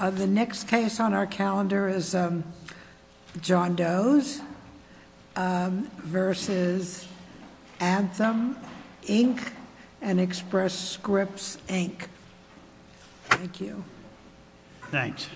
The next case on our calendar is John Doe's versus Anthem, Inc. and Express Scripts, Inc. Thank you. Thanks.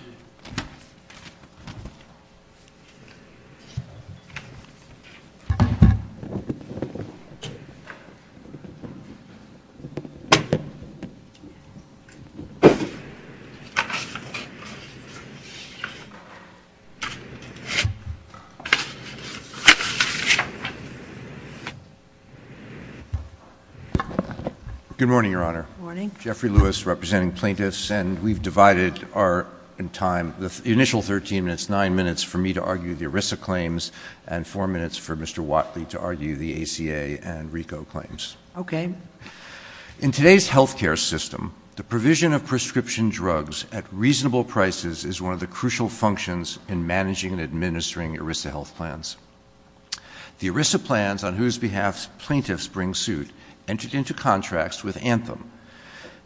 Good morning, Your Honor. Good morning. Jeffrey Lewis, representing plaintiffs, and we've divided our time, the initial 13 minutes, 9 minutes for me to argue the ERISA claims and 4 minutes for Mr. Watley to argue the ACA and RICO claims. Okay. In today's health care system, the provision of prescription drugs at reasonable prices is one of the crucial functions in managing and administering ERISA health plans. The ERISA plans on whose behalf plaintiffs bring suit entered into contracts with Anthem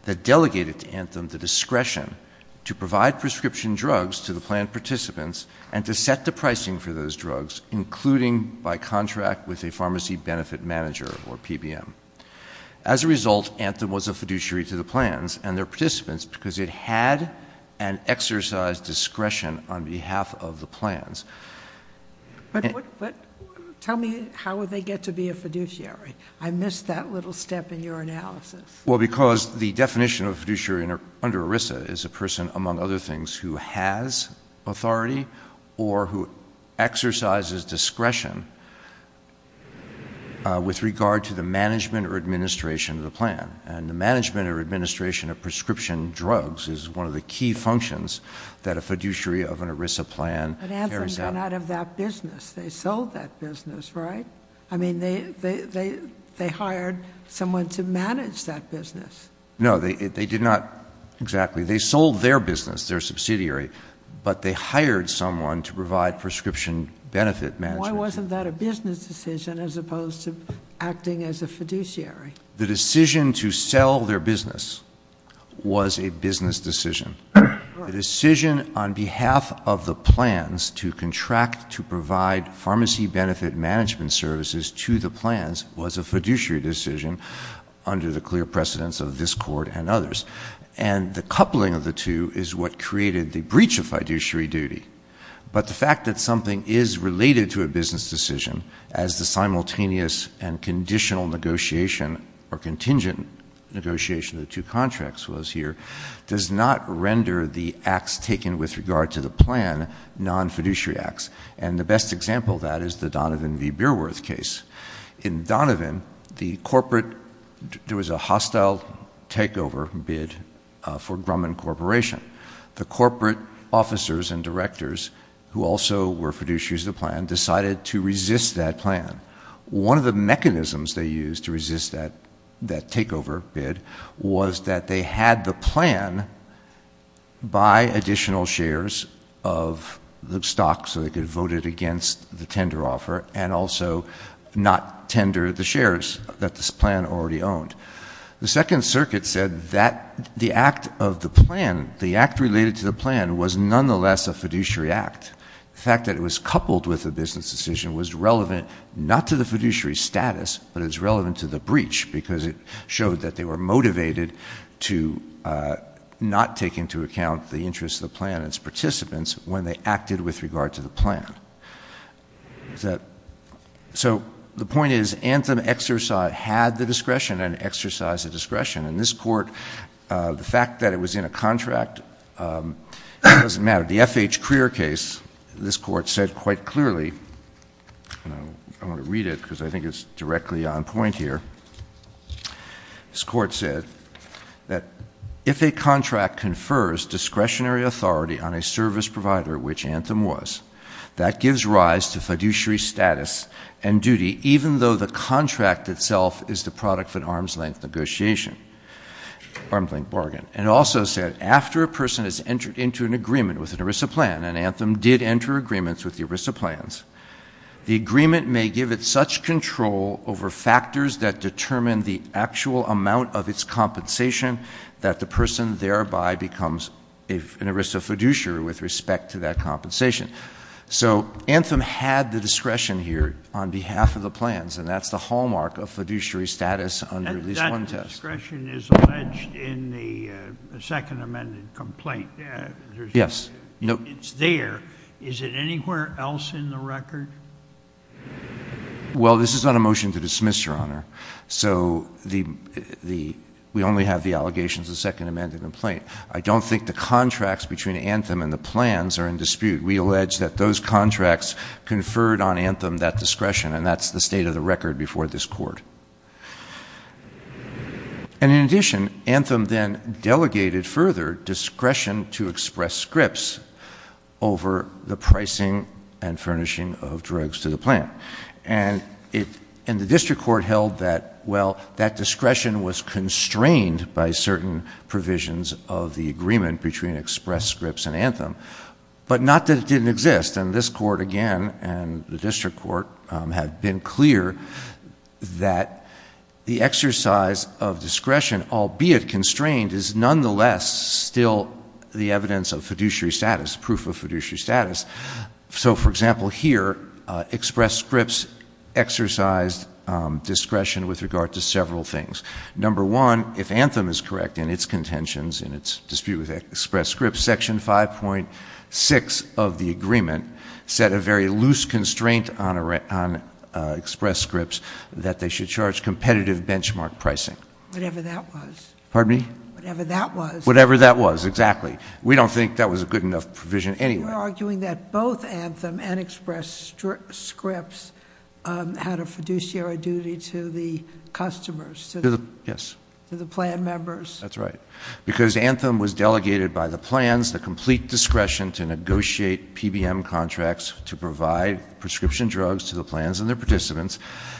that delegated to Anthem the discretion to provide prescription drugs to the plan participants and to set the pricing for those drugs, including by contract with a pharmacy benefit manager or PBM. As a result, Anthem was a fiduciary to the plans and their participants because it had an exercise discretion on behalf of the plans. Tell me how would they get to be a fiduciary? I missed that little step in your analysis. Well, because the definition of a fiduciary under ERISA is a person, among other things, who has authority or who exercises discretion with regard to the management or administration of the plan. And the management or administration of prescription drugs is one of the key functions that a fiduciary of an ERISA plan carries out. But Anthem got out of that business. They sold that business, right? I mean, they hired someone to manage that business. No, they did not exactly. They sold their business, their subsidiary, but they hired someone to provide prescription benefit management. Why wasn't that a business decision as opposed to acting as a fiduciary? The decision to sell their business was a business decision. The decision on behalf of the plans to contract to provide pharmacy benefit management services to the plans was a fiduciary decision under the clear precedence of this court and others. And the coupling of the two is what created the breach of fiduciary duty. But the fact that something is related to a business decision, as the simultaneous and conditional negotiation or contingent negotiation of the two contracts was here, does not render the acts taken with regard to the plan non-fiduciary acts. And the best example of that is the Donovan v. Beerworth case. In Donovan, there was a hostile takeover bid for Grumman Corporation. The corporate officers and directors, who also were fiduciaries of the plan, decided to resist that plan. One of the mechanisms they used to resist that takeover bid was that they had the plan buy additional shares of the stock so they could vote it against the tender offer and also not tender the shares that this plan already owned. The Second Circuit said that the act of the plan, the act related to the plan, was nonetheless a fiduciary act. The fact that it was coupled with a business decision was relevant not to the fiduciary status, but it was relevant to the breach because it showed that they were motivated to not take into account the interests of the plan and its participants when they acted with regard to the plan. So the point is Anthem had the discretion and exercised the discretion. In this court, the fact that it was in a contract doesn't matter. The F.H. Crear case, this court said quite clearly, and I want to read it because I think it's directly on point here, this court said that if a contract confers discretionary authority on a service provider, which Anthem was, that gives rise to fiduciary status and duty even though the contract itself is the product of an arm's-length bargain. And it also said, after a person has entered into an agreement with an ERISA plan, and Anthem did enter agreements with the ERISA plans, the agreement may give it such control over factors that determine the actual amount of its compensation that the person thereby becomes an ERISA fiduciary with respect to that compensation. So Anthem had the discretion here on behalf of the plans, and that's the hallmark of fiduciary status under at least one test. If the discretion is alleged in the second amended complaint, it's there, is it anywhere else in the record? Well this is not a motion to dismiss, Your Honor, so we only have the allegations of second amended complaint. I don't think the contracts between Anthem and the plans are in dispute. We allege that those contracts conferred on Anthem that discretion, and that's the state of the record before this court. And in addition, Anthem then delegated further discretion to Express Scripts over the pricing and furnishing of drugs to the plan. And the district court held that, well, that discretion was constrained by certain provisions of the agreement between Express Scripts and Anthem, but not that it didn't exist. And this court, again, and the district court have been clear that the exercise of discretion, albeit constrained, is nonetheless still the evidence of fiduciary status, proof of fiduciary status. So for example here, Express Scripts exercised discretion with regard to several things. Number one, if Anthem is correct in its contentions, in its dispute with Express Scripts, Section 5.6 of the agreement set a very loose constraint on Express Scripts that they should charge competitive benchmark pricing. Whatever that was. Pardon me? Whatever that was. Whatever that was, exactly. We don't think that was a good enough provision anyway. You're arguing that both Anthem and Express Scripts had a fiduciary duty to the customers, to the plan members. That's right. Because Anthem was delegated by the plans, the complete discretion to negotiate PBM contracts to provide prescription drugs to the plans and their participants,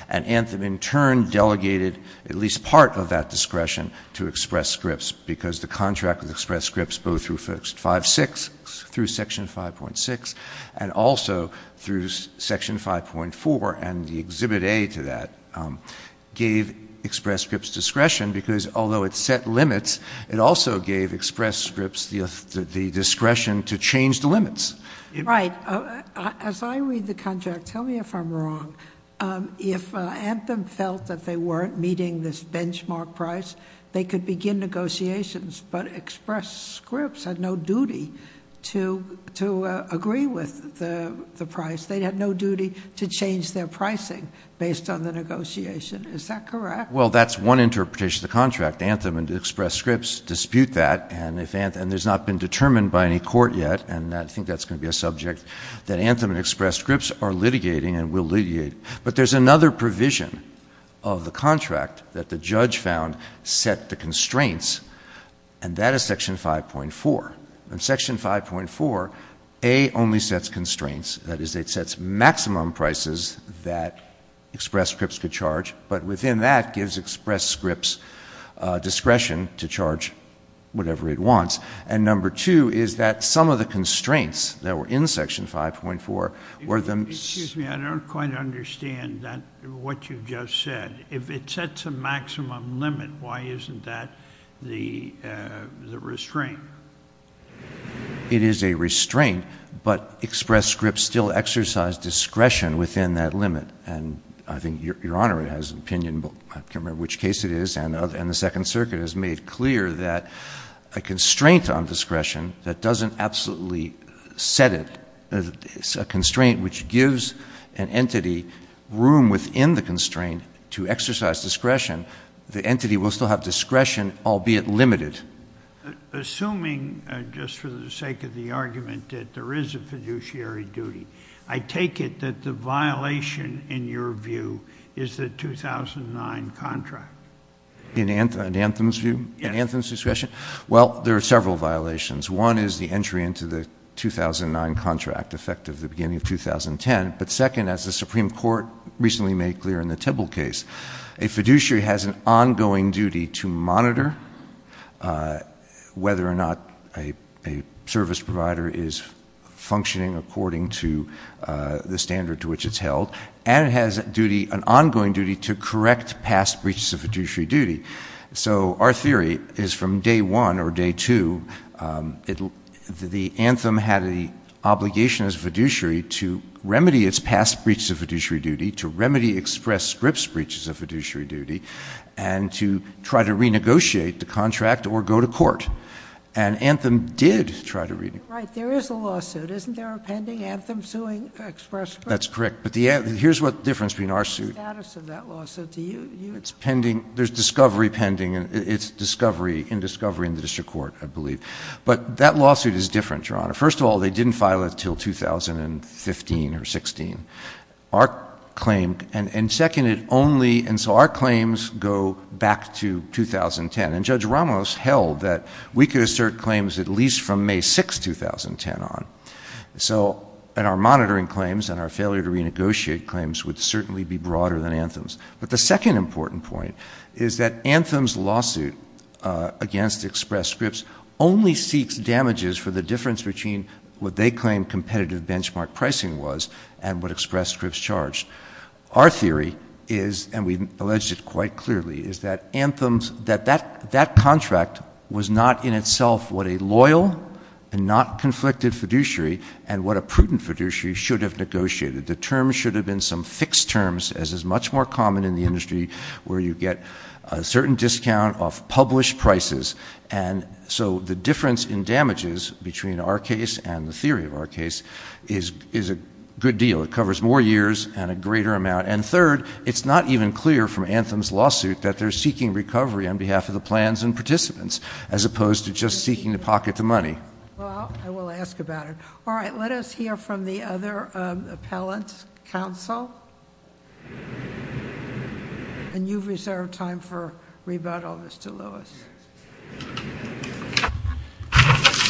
and Anthem in turn delegated at least part of that discretion to Express Scripts because the contract with Express Scripts, both through Section 5.6 and also through Section 5.4 and the Exhibit A to that, gave Express Scripts discretion because although it set limits, it also gave Express Scripts the discretion to change the limits. Right. As I read the contract, tell me if I'm wrong. If Anthem felt that they weren't meeting this benchmark price, they could begin negotiations, but Express Scripts had no duty to agree with the price. They had no duty to change their pricing based on the negotiation. Is that correct? Well, that's one interpretation of the contract. Anthem and Express Scripts dispute that, and there's not been determined by any court yet, and I think that's going to be a subject, that Anthem and Express Scripts are litigating and will litigate. But there's another provision of the contract that the judge found set the constraints, and that is Section 5.4. In Section 5.4, A only sets constraints. That is, it sets maximum prices that Express Scripts could charge, but within that, gives Express Scripts discretion to charge whatever it wants. And number two is that some of the constraints that were in Section 5.4 were the... Excuse me, I don't quite understand that, what you've just said. If it sets a maximum limit, why isn't that the restraint? It is a restraint, but Express Scripts still exercise discretion within that limit, and I think Your Honor has an opinion, but I can't remember which case it is, and the Second Circuit has made clear that a constraint on discretion that doesn't absolutely set it, a constraint which gives an entity room within the constraint to exercise discretion, the entity will still have discretion, albeit limited. Assuming, just for the sake of the argument, that there is a fiduciary duty, I take it that the violation, in your view, is the 2009 contract. In Anthem's view, in Anthem's discretion? Yes. Well, there are several violations. One is the entry into the 2009 contract, effective the beginning of 2010, but second, as the Supreme Court recently made clear in the Tibble case, a fiduciary has an ongoing duty to monitor whether or not a service provider is functioning according to the standard to which it's held, and it has an ongoing duty to correct past breaches of fiduciary duty. So our theory is from day one or day two, the Anthem had the obligation as a fiduciary to remedy its past breaches of fiduciary duty, to remedy Express Scripts' breaches of fiduciary duty, and to try to renegotiate the contract or go to court, and Anthem did try to renegotiate. Right. There is a lawsuit. Isn't there a pending Anthem suing Express Scripts? That's correct, but here's what the difference between our suit— There's discovery pending, and it's in discovery in the district court, I believe. But that lawsuit is different, Your Honor. First of all, they didn't file it until 2015 or 16. And second, it only—and so our claims go back to 2010, and Judge Ramos held that we could assert claims at least from May 6, 2010 on. And our monitoring claims and our failure to renegotiate claims would certainly be broader than Anthem's. But the second important point is that Anthem's lawsuit against Express Scripts only seeks damages for the difference between what they claim competitive benchmark pricing was and what Express Scripts charged. Our theory is, and we've alleged it quite clearly, is that Anthem's—that that contract was not in itself what a loyal and not conflicted fiduciary and what a prudent fiduciary should have negotiated. The terms should have been some fixed terms as is much more common in the industry where you get a certain discount off published prices. And so the difference in damages between our case and the theory of our case is a good deal. It covers more years and a greater amount. And third, it's not even clear from Anthem's lawsuit that they're seeking recovery on behalf of the plans and participants, as opposed to just seeking to pocket the money. Well, I will ask about it. All right. Let us hear from the other appellants. Counsel? And you've reserved time for rebuttal, Mr. Lewis.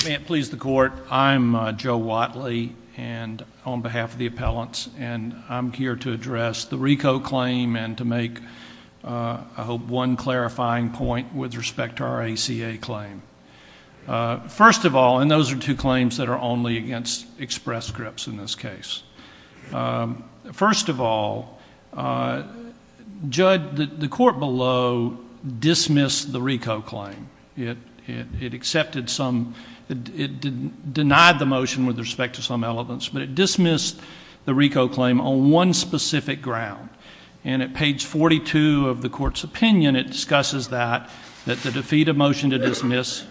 May it please the Court. I'm Joe Watley, and on behalf of the appellants, and I'm here to address the RICO claim and to make, I hope, one clarifying point with respect to our ACA claim. First of all, and those are two claims that are only against express scripts in this case. First of all, Judge, the court below dismissed the RICO claim. It accepted some — it denied the motion with respect to some elements, but it dismissed the RICO claim on one specific ground. And at page 42 of the court's opinion, it discusses that, that to defeat a motion to dismiss,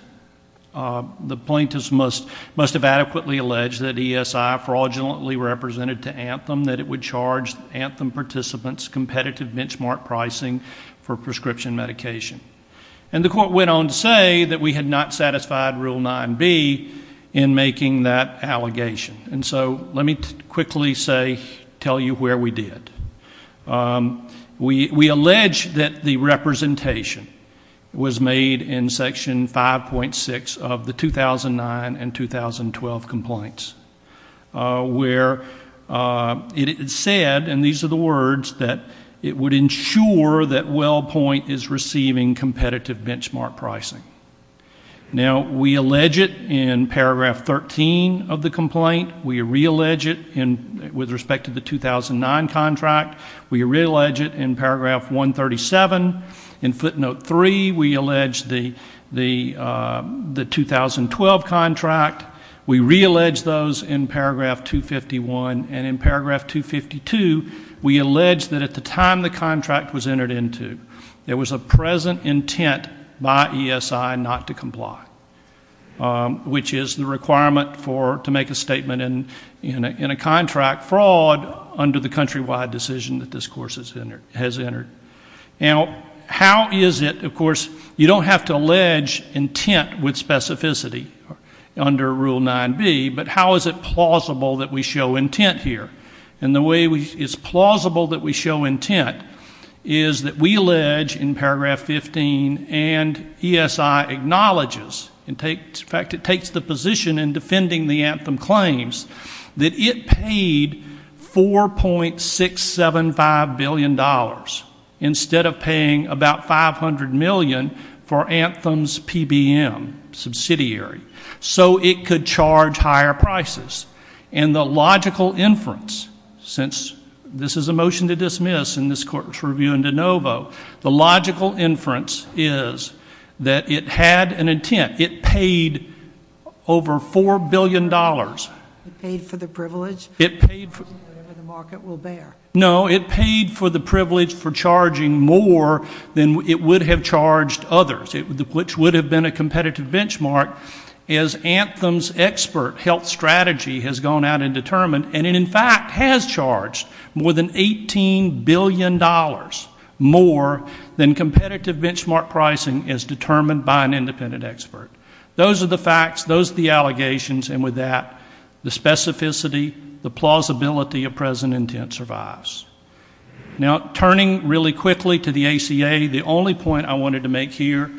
the plaintiffs must have adequately alleged that ESI fraudulently represented to Anthem that it would charge Anthem participants competitive benchmark pricing for prescription medication. And the court went on to say that we had not satisfied Rule 9b in making that allegation. And so let me quickly say — tell you where we did. We, we allege that the representation was made in Section 5.6 of the 2009 and 2012 complaints, where it said, and these are the words, that it would ensure that WellPoint is receiving competitive benchmark pricing. Now, we allege it in paragraph 13 of the complaint. We reallege it in — with respect to the 2009 contract. We reallege it in paragraph 137. In footnote 3, we allege the, the, the 2012 contract. We reallege those in paragraph 251. And in paragraph 252, we allege that at the time the contract was entered into, there was a present intent by ESI not to comply, which is the requirement for — to make a statement in, in a contract fraud under the countrywide decision that this course has entered. Now, how is it, of course, you don't have to allege intent with specificity under Rule 9b, but how is it plausible that we show intent here? And the way we — it's plausible that we show intent is that we allege in paragraph 15 and ESI acknowledges and takes — in fact, in defending the Anthem claims, that it paid $4.675 billion instead of paying about $500 million for Anthem's PBM subsidiary so it could charge higher prices. And the logical inference, since this is a motion to dismiss in this court's review in de novo, the logical inference is that it paid $4.675 billion. It paid for the privilege. It paid for — whatever the market will bear. No, it paid for the privilege for charging more than it would have charged others, which would have been a competitive benchmark as Anthem's expert health strategy has gone out and determined. And it, in fact, has charged more than $18 billion more than competitive benchmark pricing as determined by an independent expert. Those are the facts. Those are the allegations. And with that, the specificity, the plausibility of present intent survives. Now, turning really quickly to the ACA, the only point I wanted to make here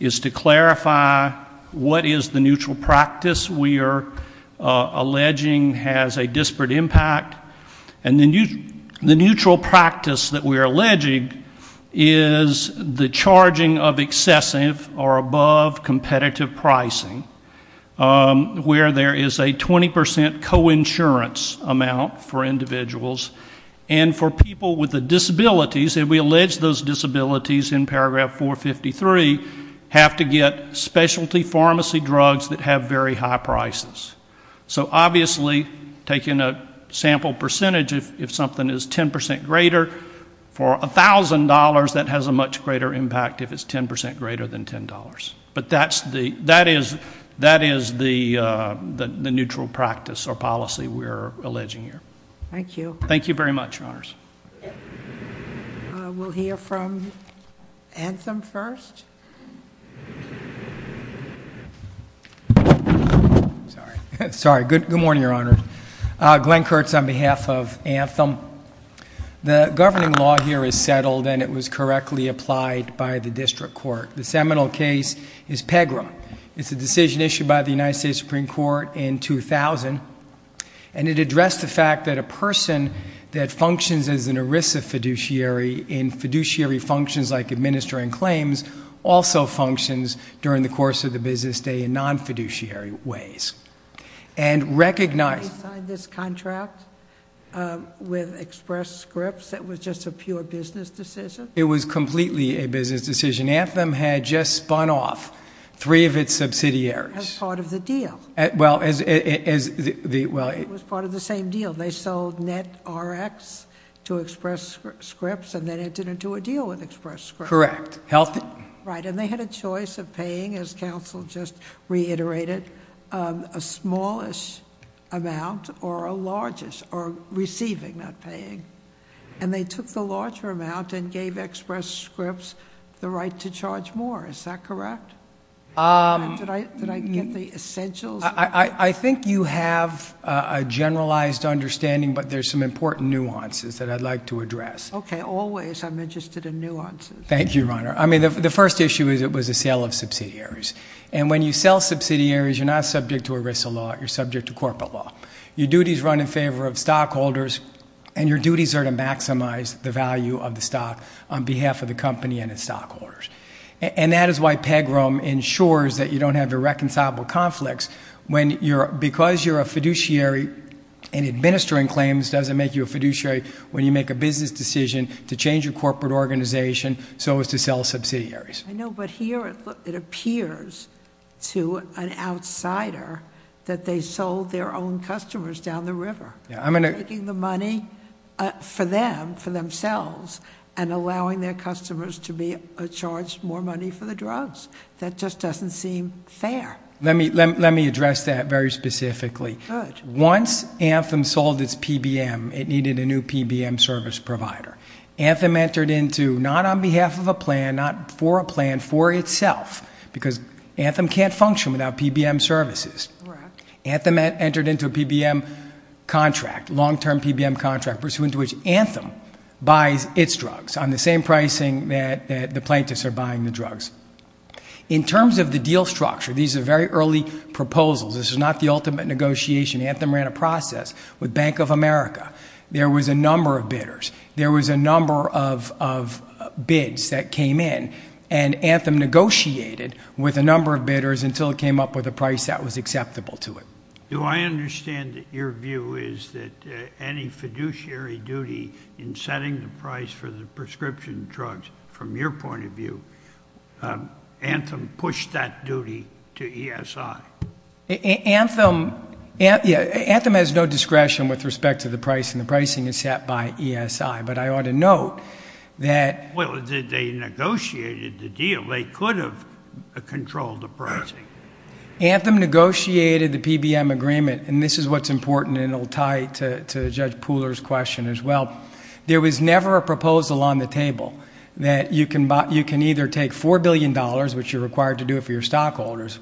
is to clarify what is the neutral practice we are alleging has a disparate impact. And the neutral practice that we are alleging is the charging of excessive or above competitive pricing, where there is a 20 percent coinsurance amount for individuals. And for people with the disabilities, if we allege those disabilities in paragraph 453, have to get specialty pharmacy drugs that have very high prices. So obviously, taking a sample percentage, if something is 10 percent greater, for $1,000, that has a much greater impact if it's 10 percent greater than $10. But that is the neutral practice or policy we are alleging here. Thank you. Thank you very much, Your Honors. We'll hear from Anthem first. Sorry. Good morning, Your Honors. Glenn Kurtz on behalf of Anthem. The governing law here is settled, and it was correctly applied by the district court. The seminal case is Pegram. It's a decision issued by the United States Supreme Court in 2000, and it addressed the fact that a person that functions as an ERISA fiduciary in fiduciary functions like administering claims also functions during the course of the business day in non-fiduciary ways. I signed this contract with Express Scripts. It was just a pure business decision? It was completely a business decision. Anthem had just spun off three of its subsidiaries. As part of the deal? Well, as the— It was part of the same deal. They sold NetRx to Express Scripts, and then it didn't do a deal with Express Scripts. Correct. Right. And they had a choice of paying, as counsel just reiterated, a smallish amount or a largest, or receiving, not paying. And they took the larger amount and gave Express Scripts the right to charge more. Is that correct? Did I get the essentials? I think you have a generalized understanding, but there's some important nuances that I'd like to address. Okay. Always I'm interested in nuances. Thank you, Your Honor. I mean, the first issue is it was a sale of subsidiaries. And when you sell subsidiaries, you're not subject to a risk of law. You're subject to corporate law. Your duties run in favor of stockholders, and your duties are to maximize the value of the stock on behalf of the company and its stockholders. And that is why PEGROM ensures that you don't have irreconcilable conflicts when you're—because you're a fiduciary and administering claims doesn't make you a fiduciary when you make a business decision to change your corporate organization so as to sell subsidiaries. I know, but here it appears to an outsider that they sold their own customers down the river, taking the money for them, for themselves, and allowing their customers to be charged more money for the drugs. That just doesn't seem fair. Let me address that very specifically. Once Anthem sold its PBM, it needed a new PBM service provider. Anthem entered into—not on behalf of a plan, not for a plan, for itself, because Anthem can't function without PBM services. Anthem entered into a PBM contract, long-term PBM contract, pursuant to which Anthem buys its drugs on the same pricing that the plaintiffs are buying the drugs. In terms of the deal structure, these are very early proposals. This is not the ultimate negotiation. Anthem ran a process with Bank of America. There was a number of bidders. There was a number of bids that came in, and Anthem negotiated with a number of bidders until it came up with a price that was acceptable to it. Do I understand that your view is that any fiduciary duty in setting the price for the prescription drugs, from your point of view, Anthem pushed that duty to ESI? Anthem has no discretion with respect to the price, and the pricing is set by ESI, but I ought to note that— Well, they negotiated the deal. They could have controlled the pricing. Anthem negotiated the PBM agreement, and this is what's important, and it will tie to Judge Pooler's question as well. There was never a proposal on the table that you can either take $4 billion, which you're required to do for your stockholders,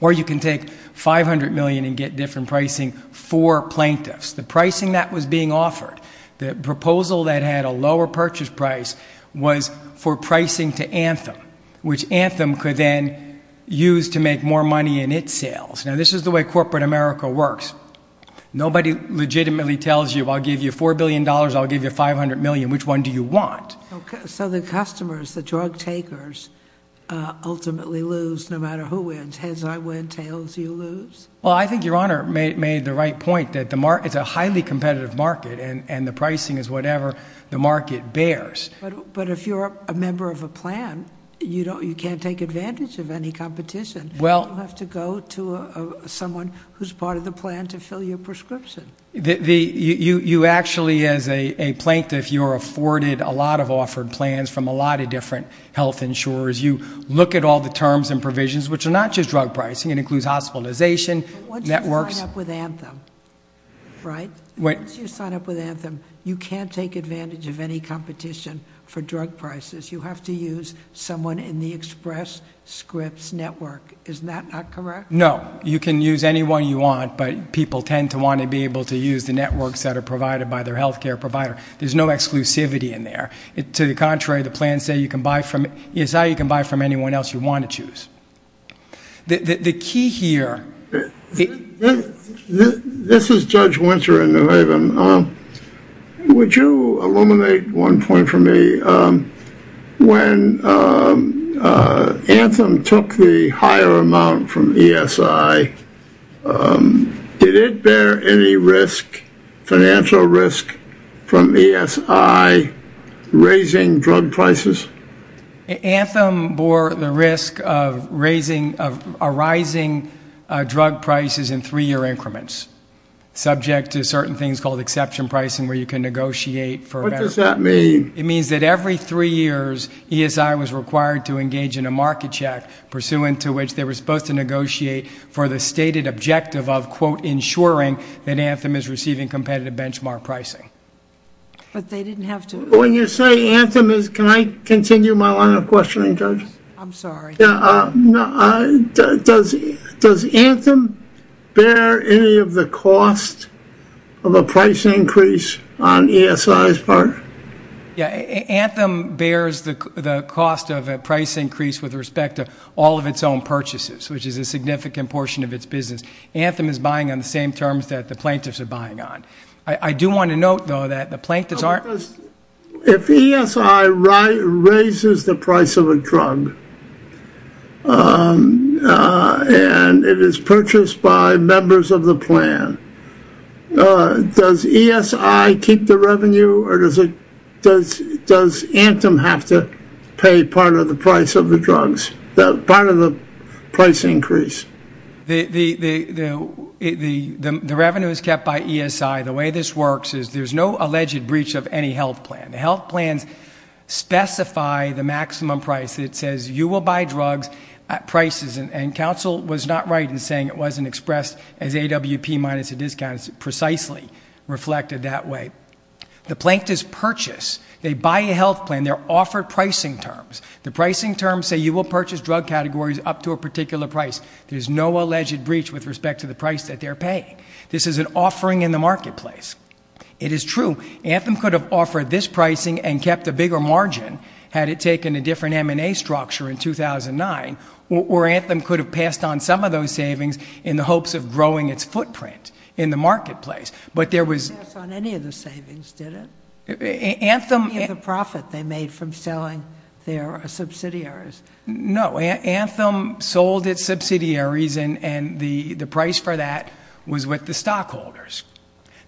or you can take $500 million and get different pricing for plaintiffs. The pricing that was being offered, the proposal that had a lower purchase price, was for pricing to Anthem, which Anthem could then use to make more money in its sales. This is the way corporate America works. Nobody legitimately tells you, I'll give you $4 billion, I'll give you $500 million. Which one do you want? So the customers, the drug takers, ultimately lose no matter who wins. Heads, I win. Tails, you lose? Well, I think Your Honor made the right point that it's a highly competitive market, and the pricing is whatever the market bears. But if you're a member of a plan, you can't take advantage of any competition. You have to go to someone who's part of the plan to fill your prescription. You actually, as a plaintiff, you're afforded a lot of offered plans from a lot of different health insurers. You look at all the terms and provisions, which are not just drug pricing. It includes hospitalization, networks. Once you sign up with Anthem, right? Once you sign up with Anthem, you can't take advantage of any competition for drug prices. You have to use someone in the Express Scripts network. Is that not correct? No. You can use anyone you want, but people tend to want to be able to use the networks that are provided by their health care provider. There's no exclusivity in there. To the contrary, the plans say you can buy from ESI, you can buy from anyone else you want to choose. The key here... This is Judge Winter in New Haven. Would you illuminate one point for me? When Anthem took the higher amount from ESI, did it bear any risk, financial risk, from ESI raising drug prices? Anthem bore the risk of raising, of arising drug prices in three-year increments, subject to certain things called exception pricing where you can negotiate for a better... What does that mean? It means that every three years, ESI was required to engage in a market check pursuant to which they were supposed to negotiate for the stated objective of, quote, ensuring that Anthem is receiving competitive benchmark pricing. But they didn't have to... When you say Anthem is... Can I continue my line of questioning, Judge? I'm sorry. Yeah. Does Anthem bear any of the cost of a price increase on ESI's part? Yeah. Anthem bears the cost of a price increase with respect to all of its own purchases, which is a significant portion of its business. Anthem is buying on the same terms that the plaintiffs are buying on. I do want to note, though, that the plaintiffs aren't... If ESI raises the price of a drug and it is purchased by members of the plan, does ESI keep the revenue or does Anthem have to pay part of the price of the drugs, part of the price increase? The revenue is kept by ESI. The way this works is there's no alleged breach of any health plan. The health plans specify the maximum price. It says you will buy drugs at prices. Counsel was not right in saying it wasn't expressed as AWP minus a discount. It's precisely reflected that way. The plaintiffs purchase. They buy a health plan. They're offered pricing terms. The pricing terms say you will purchase drug categories up to a particular price. There's no alleged breach with respect to the price that they're paying. This is an offering in the marketplace. It is true. Anthem could have offered this pricing and kept a bigger margin had it taken a different M&A structure in 2009, or Anthem could have passed on some of those savings in the hopes of growing its footprint in the marketplace, but there was... It didn't pass on any of the savings, did it? Anthem... Any of the profit they made from selling their subsidiaries. No. Anthem sold its subsidiaries and the price for that was with the stockholders.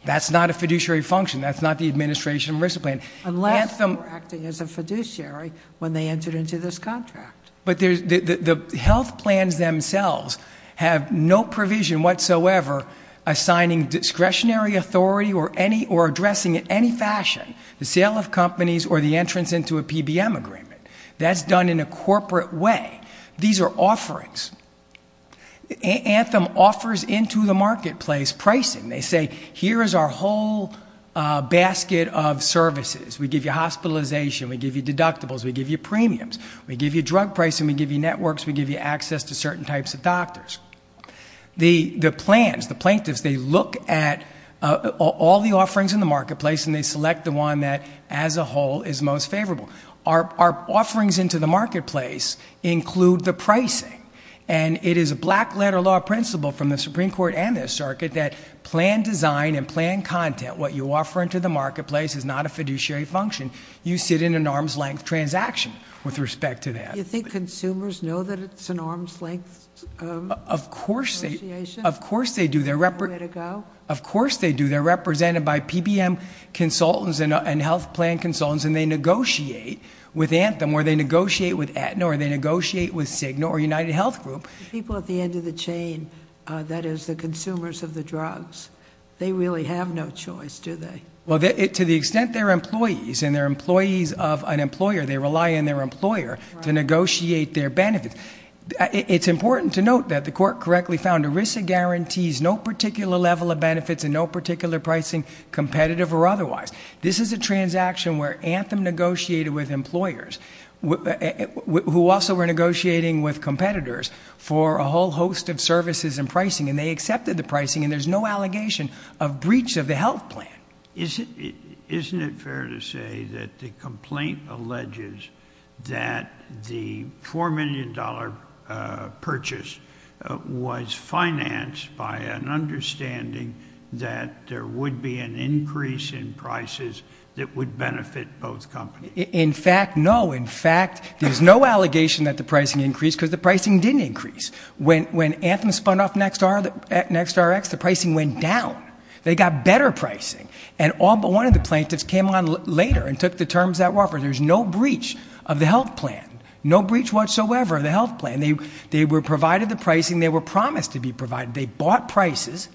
That's not a fiduciary function. That's not the administration risk plan. Unless they were acting as a fiduciary when they entered into this contract. But the health plans themselves have no provision whatsoever assigning discretionary authority or addressing in any fashion the sale of companies or the entrance into a PBM agreement. That's done in a corporate way. These are offerings. Anthem offers into the marketplace pricing. They say, here is our whole basket of services. We give you hospitalization. We give you deductibles. We give you premiums. We give you drug pricing. We give you networks. We give you access to certain types of doctors. The plans, the plaintiffs, they look at all the offerings in the marketplace and they select the one that as a whole is most favorable. Our offerings into the marketplace include the pricing. It is a black letter law principle from the Supreme Court and the circuit that plan design and plan content. What you offer into the marketplace is not a fiduciary function. You sit in an arm's length transaction with respect to that. Do you think consumers know that it's an arm's length negotiation? Of course they do. Is there a way to go? Of course they do. They're represented by PBM consultants and health plan consultants and they negotiate with Anthem or they negotiate with Aetna or they negotiate with Cigna or United Health Group. People at the end of the chain, that is the consumers of the drugs, they really have no choice, do they? To the extent they're employees and they're employees of an employer, they rely on their employer to negotiate their benefits. It's important to note that the court correctly found ERISA guarantees no particular level of benefits and no particular pricing, competitive or otherwise. This is a transaction where Anthem negotiated with employers who also were negotiating with competitors for a whole host of services and pricing and they accepted the pricing and there's no allegation of breach of the health plan. Isn't it fair to say that the complaint alleges that the $4 million purchase was financed by an understanding that there would be an increase in prices that would benefit both companies? In fact, no. In fact, there's no allegation that the pricing increased because the pricing didn't increase. When Anthem spun off NextRx, the pricing went down. They got better pricing and all but one of the plaintiffs came on later and took the terms that were offered. There's no breach of the health plan, no breach whatsoever of the health plan. They were provided the pricing, they were promised to be provided. They bought prices,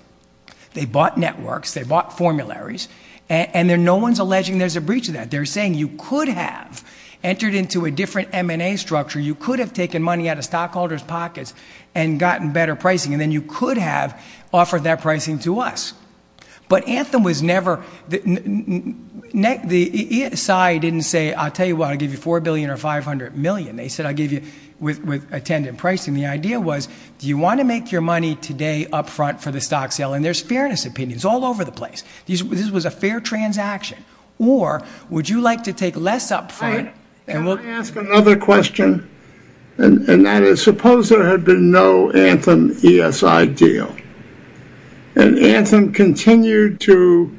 they bought networks, they bought formularies and no one's alleging there's a breach of that. They're saying you could have entered into a different M&A structure, you could have taken money out of stockholders pockets and gotten better pricing and then you could have offered that pricing to us. But Anthem was never, the ESI didn't say, I'll tell you what, I'll give you $4 billion or $500 million. They said I'll give you with attendant pricing. The idea was, do you want to make your money today up front for the stock sale? And there's fairness opinions all over the place. This was a fair transaction. Or would you like to take less up front and We'll ask another question and that is suppose there had been no Anthem ESI deal and Anthem continued to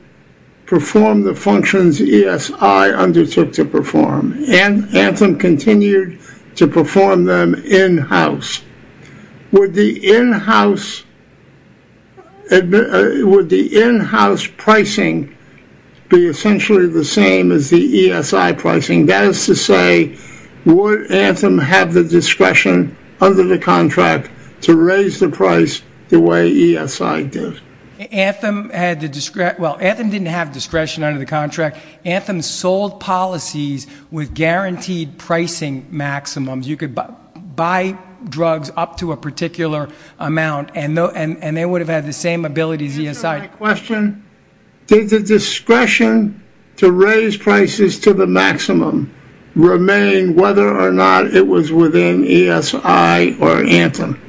perform the functions ESI undertook to perform and Anthem continued to perform them in-house. Would the in-house, would the in-house pricing be essentially the same as ESI? Would Anthem have the discretion under the contract to raise the price the way ESI did? Anthem had the, well, Anthem didn't have discretion under the contract. Anthem sold policies with guaranteed pricing maximums. You could buy drugs up to a particular amount and they would have had the same ability as ESI. Did the discretion to raise prices to the maximum remain whether or not it was within ESI or Anthem?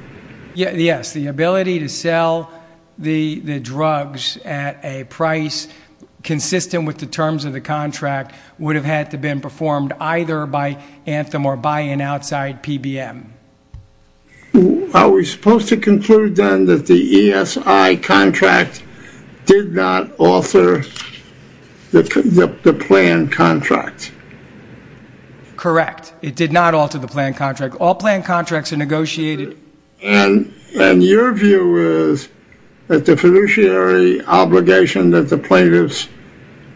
Yes, the ability to sell the drugs at a price consistent with the terms of the contract would have had to have been performed either by Anthem or by an outside PBM. Are we supposed to conclude then that the ESI contract did not alter the planned contract? Correct. It did not alter the planned contract. All planned contracts are negotiated. And your view is that the fiduciary obligation that the plaintiffs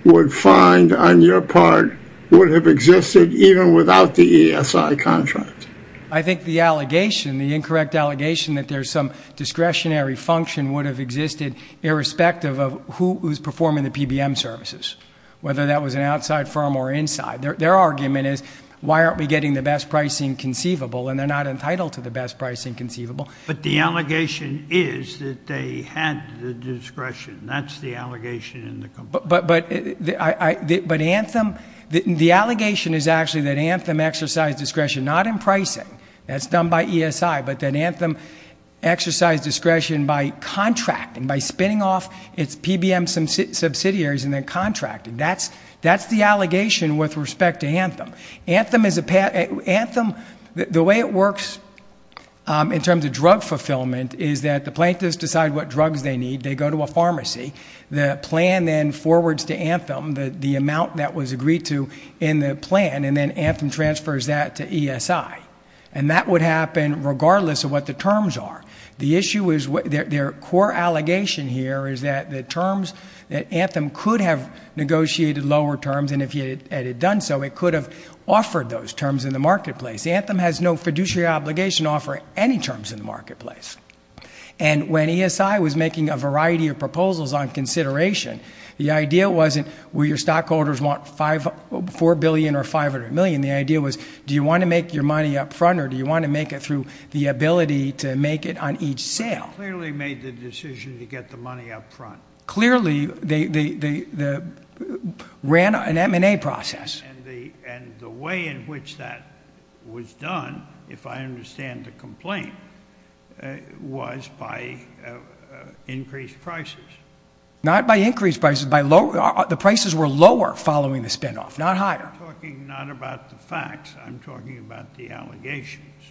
would find on your part would have existed even without the ESI contract? I think the allegation, the incorrect allegation that there's some discretionary function would have existed irrespective of who's performing the PBM services, whether that was an outside firm or inside. Their argument is, why aren't we getting the best pricing conceivable? And they're not entitled to the best pricing conceivable. But the allegation is that they had the discretion. That's the allegation in the complaint. But Anthem, the allegation is actually that Anthem exercised discretion, not in pricing. That's done by ESI. But that Anthem exercised discretion by contracting, by spinning off its PBM subsidiaries and then contracting. That's the allegation with respect to Anthem. Anthem, the way it works in terms of drug fulfillment is that the plaintiffs decide what drugs they need. They go to a pharmacy. The plan then forwards to Anthem the amount that was agreed to in the plan, and then Anthem transfers that to ESI. And that would happen regardless of what the terms are. The issue is, their core allegation here is that the terms, that Anthem could have negotiated lower terms, and if it had done so, it could have offered those terms in the marketplace. Anthem has no fiduciary obligation to offer any terms in the marketplace. And when ESI was making a variety of proposals on consideration, the idea wasn't, will your stockholders want $4 billion or $500 million? The idea was, do you want to make your money up front or do you want to make it through the ability to make it on each sale? They clearly made the decision to get the money up front. Clearly, they ran an M&A process. And the way in which that was done, if I understand the complaint, was by increased prices. Not by increased prices. The prices were lower following the spin-off, not higher. I'm talking not about the facts. I'm talking about the allegations,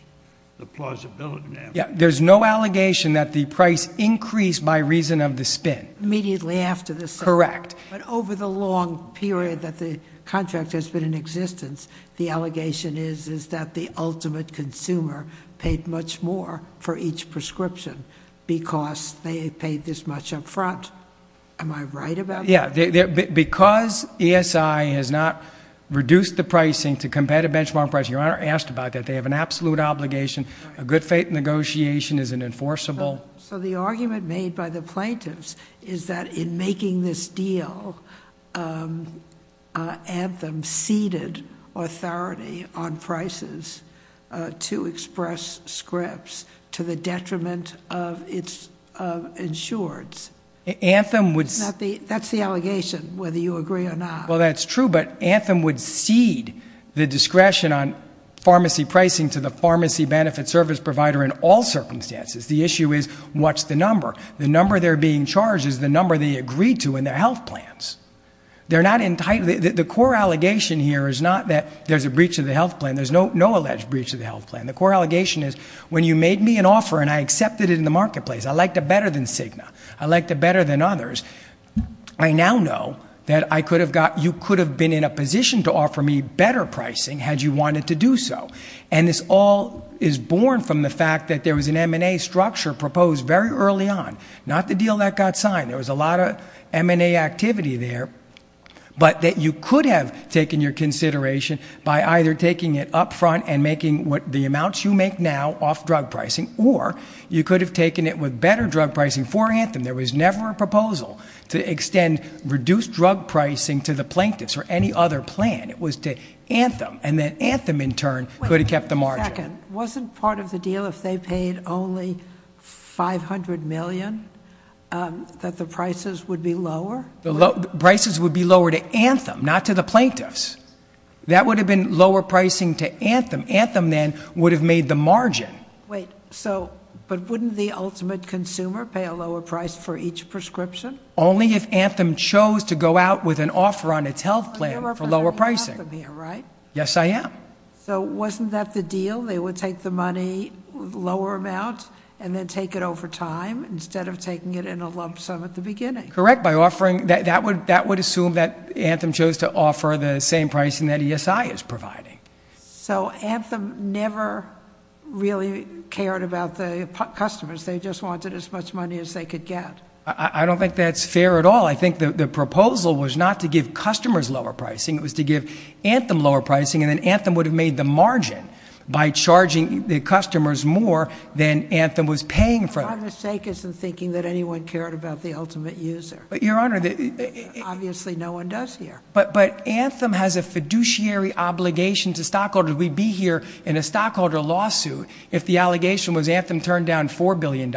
the plausibility. There's no allegation that the price increased by reason of the spin. Immediately after the sale. Correct. But over the long period that the contract has been in existence, the allegation is, is that the ultimate consumer paid much more for each prescription because they paid this much up front. Am I right about that? Yeah. Because ESI has not reduced the pricing to competitive benchmark pricing, your Honor asked about that, they have an absolute obligation. A good faith negotiation is an enforceable... Anthem ceded authority on prices to express scripts to the detriment of its insureds. Anthem would... That's the allegation, whether you agree or not. Well, that's true, but Anthem would cede the discretion on pharmacy pricing to the pharmacy benefit service provider in all circumstances. The issue is, what's the number? The number they're being charged is the number they agreed to in their health plans. They're not entitled... The core allegation here is not that there's a breach of the health plan. There's no alleged breach of the health plan. The core allegation is, when you made me an offer and I accepted it in the marketplace, I liked it better than Cigna. I liked it better than others. I now know that I could have got... You could have been in a position to offer me better pricing had you wanted to do so. And this all is born from the fact that there was an M&A structure proposed very early on. Not the deal that got signed. There was a lot of M&A activity there. But that you could have taken your consideration by either taking it up front and making the amounts you make now off drug pricing, or you could have taken it with better drug pricing for Anthem. There was never a proposal to extend reduced drug pricing to the plaintiffs or any other plan. It was to Anthem. And then Anthem, in turn, could have kept the margin. Wait a second. Wasn't part of the deal, if they paid only $500 million, that the prices would be lower? The prices would be lower to Anthem, not to the plaintiffs. That would have been lower pricing to Anthem. Anthem, then, would have made the margin. Wait. But wouldn't the ultimate consumer pay a lower price for each prescription? Only if Anthem chose to go out with an offer on its health plan for lower pricing. Yes, I am. So wasn't that the deal? They would take the money, lower amount, and then take it over time instead of taking it in a lump sum at the beginning? Correct. That would assume that Anthem chose to offer the same pricing that ESI is providing. So Anthem never really cared about the customers. They just wanted as much money as they could get. I don't think that's fair at all. I think the proposal was not to give customers lower pricing. It was to give Anthem lower pricing, and then Anthem would have made the margin by charging the customers more than Anthem was paying for them. My mistake is in thinking that anyone cared about the ultimate user. Your Honor. Obviously, no one does here. But Anthem has a fiduciary obligation to stockholders. We'd be here in a stockholder lawsuit if the allegation was Anthem turned down $4 billion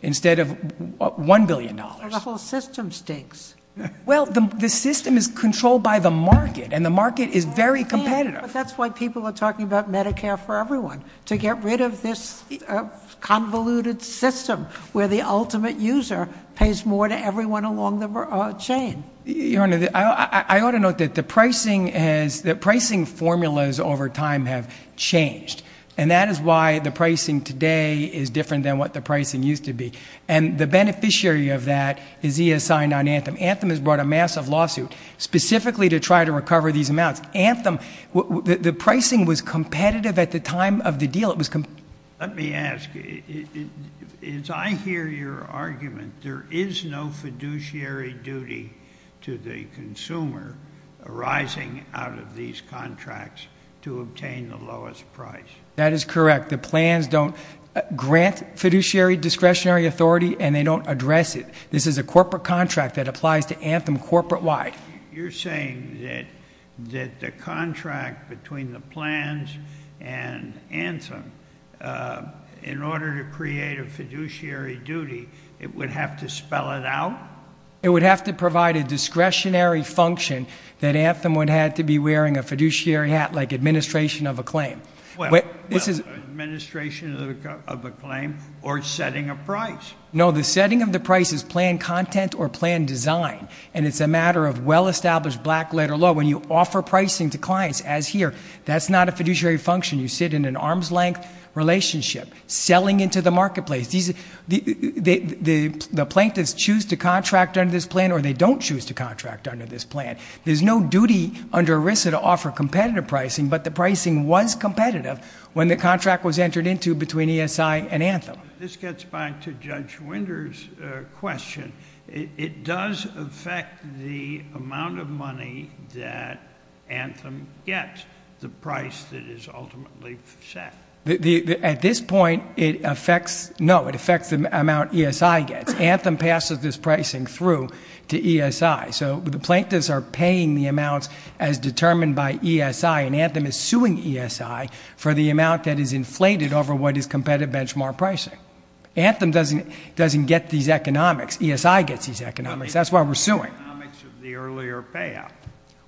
instead of $1 billion. The whole system stinks. Well, the system is controlled by the market, and the market is very competitive. But that's why people are talking about Medicare for Everyone, to get rid of this convoluted system where the ultimate user pays more to everyone along the chain. Your Honor, I ought to note that the pricing formulas over time have changed, and that is why the pricing today is different than what the pricing used to be. And the beneficiary of that is ESI on Anthem. Anthem has brought a massive lawsuit specifically to try to recover these amounts. Anthem, the pricing was competitive at the time of the deal. Let me ask, as I hear your argument, there is no fiduciary duty to the consumer arising out of these contracts to obtain the lowest price. That is correct. The plans don't grant fiduciary discretionary authority, and they don't address it. This is a corporate contract that applies to Anthem corporate-wide. You're saying that the contract between the plans and Anthem, in order to create a fiduciary duty, it would have to spell it out? It would have to provide a discretionary function that Anthem would have to be wearing a fiduciary hat, like administration of a claim. Well, administration of a claim or setting a price. No, the setting of the price is plan content or plan design, and it's a matter of well-established black-letter law. When you offer pricing to clients, as here, that's not a fiduciary function. You sit in an arm's-length relationship, selling into the marketplace. The plaintiffs choose to contract under this plan, or they don't choose to contract under this plan. There's no duty under ERISA to offer competitive pricing, but the pricing was competitive when the contract was entered into between ESI and Anthem. This gets back to Judge Winder's question. It does affect the amount of money that Anthem gets, the price that is ultimately set. At this point, no, it affects the amount ESI gets. Anthem passes this pricing through to ESI. So the plaintiffs are paying the amounts as determined by ESI, and Anthem is suing ESI for the amount that is inflated over what is competitive benchmark pricing. Anthem doesn't get these economics. ESI gets these economics. That's why we're suing. The economics of the earlier payout.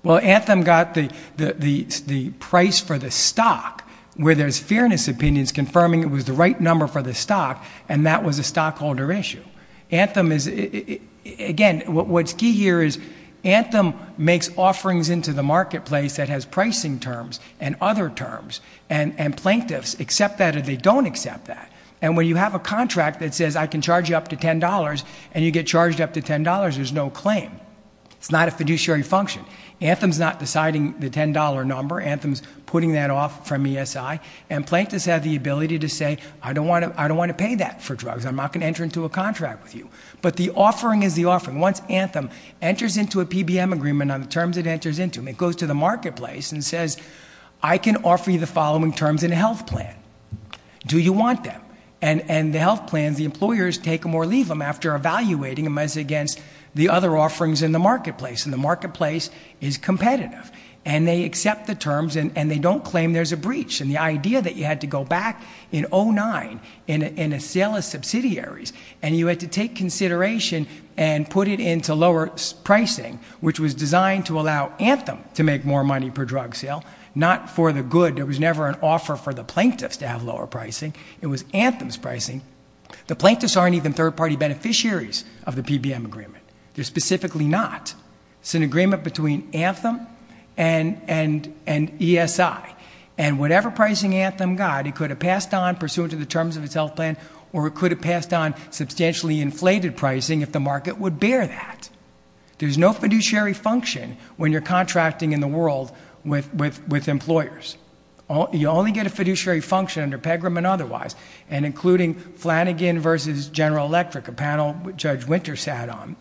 Well, Anthem got the price for the stock, where there's fairness opinions confirming it was the right number for the stock, and that was a stockholder issue. Again, what's key here is Anthem makes offerings into the marketplace that has pricing terms and other terms, and plaintiffs accept that or they don't accept that. And when you have a contract that says I can charge you up to $10 and you get charged up to $10, there's no claim. It's not a fiduciary function. Anthem's not deciding the $10 number. Anthem's putting that off from ESI, and plaintiffs have the ability to say I don't want to pay that for drugs. I'm not going to enter into a contract with you. But the offering is the offering. Once Anthem enters into a PBM agreement on the terms it enters into, it goes to the marketplace and says I can offer you the following terms in a health plan. Do you want them? And the health plans, the employers take them or leave them after evaluating them as against the other offerings in the marketplace, and the marketplace is competitive. And they accept the terms, and they don't claim there's a breach. And the idea that you had to go back in 2009 in a sale of subsidiaries and you had to take consideration and put it into lower pricing, which was designed to allow Anthem to make more money per drug sale, not for the good that was never an offer for the plaintiffs to have lower pricing. It was Anthem's pricing. The plaintiffs aren't even third-party beneficiaries of the PBM agreement. They're specifically not. It's an agreement between Anthem and ESI. And whatever pricing Anthem got, it could have passed on, pursuant to the terms of its health plan, or it could have passed on substantially inflated pricing if the market would bear that. There's no fiduciary function when you're contracting in the world with employers. You only get a fiduciary function under PEGRAM and otherwise, and including Flanagan versus General Electric, a panel Judge Winter sat on,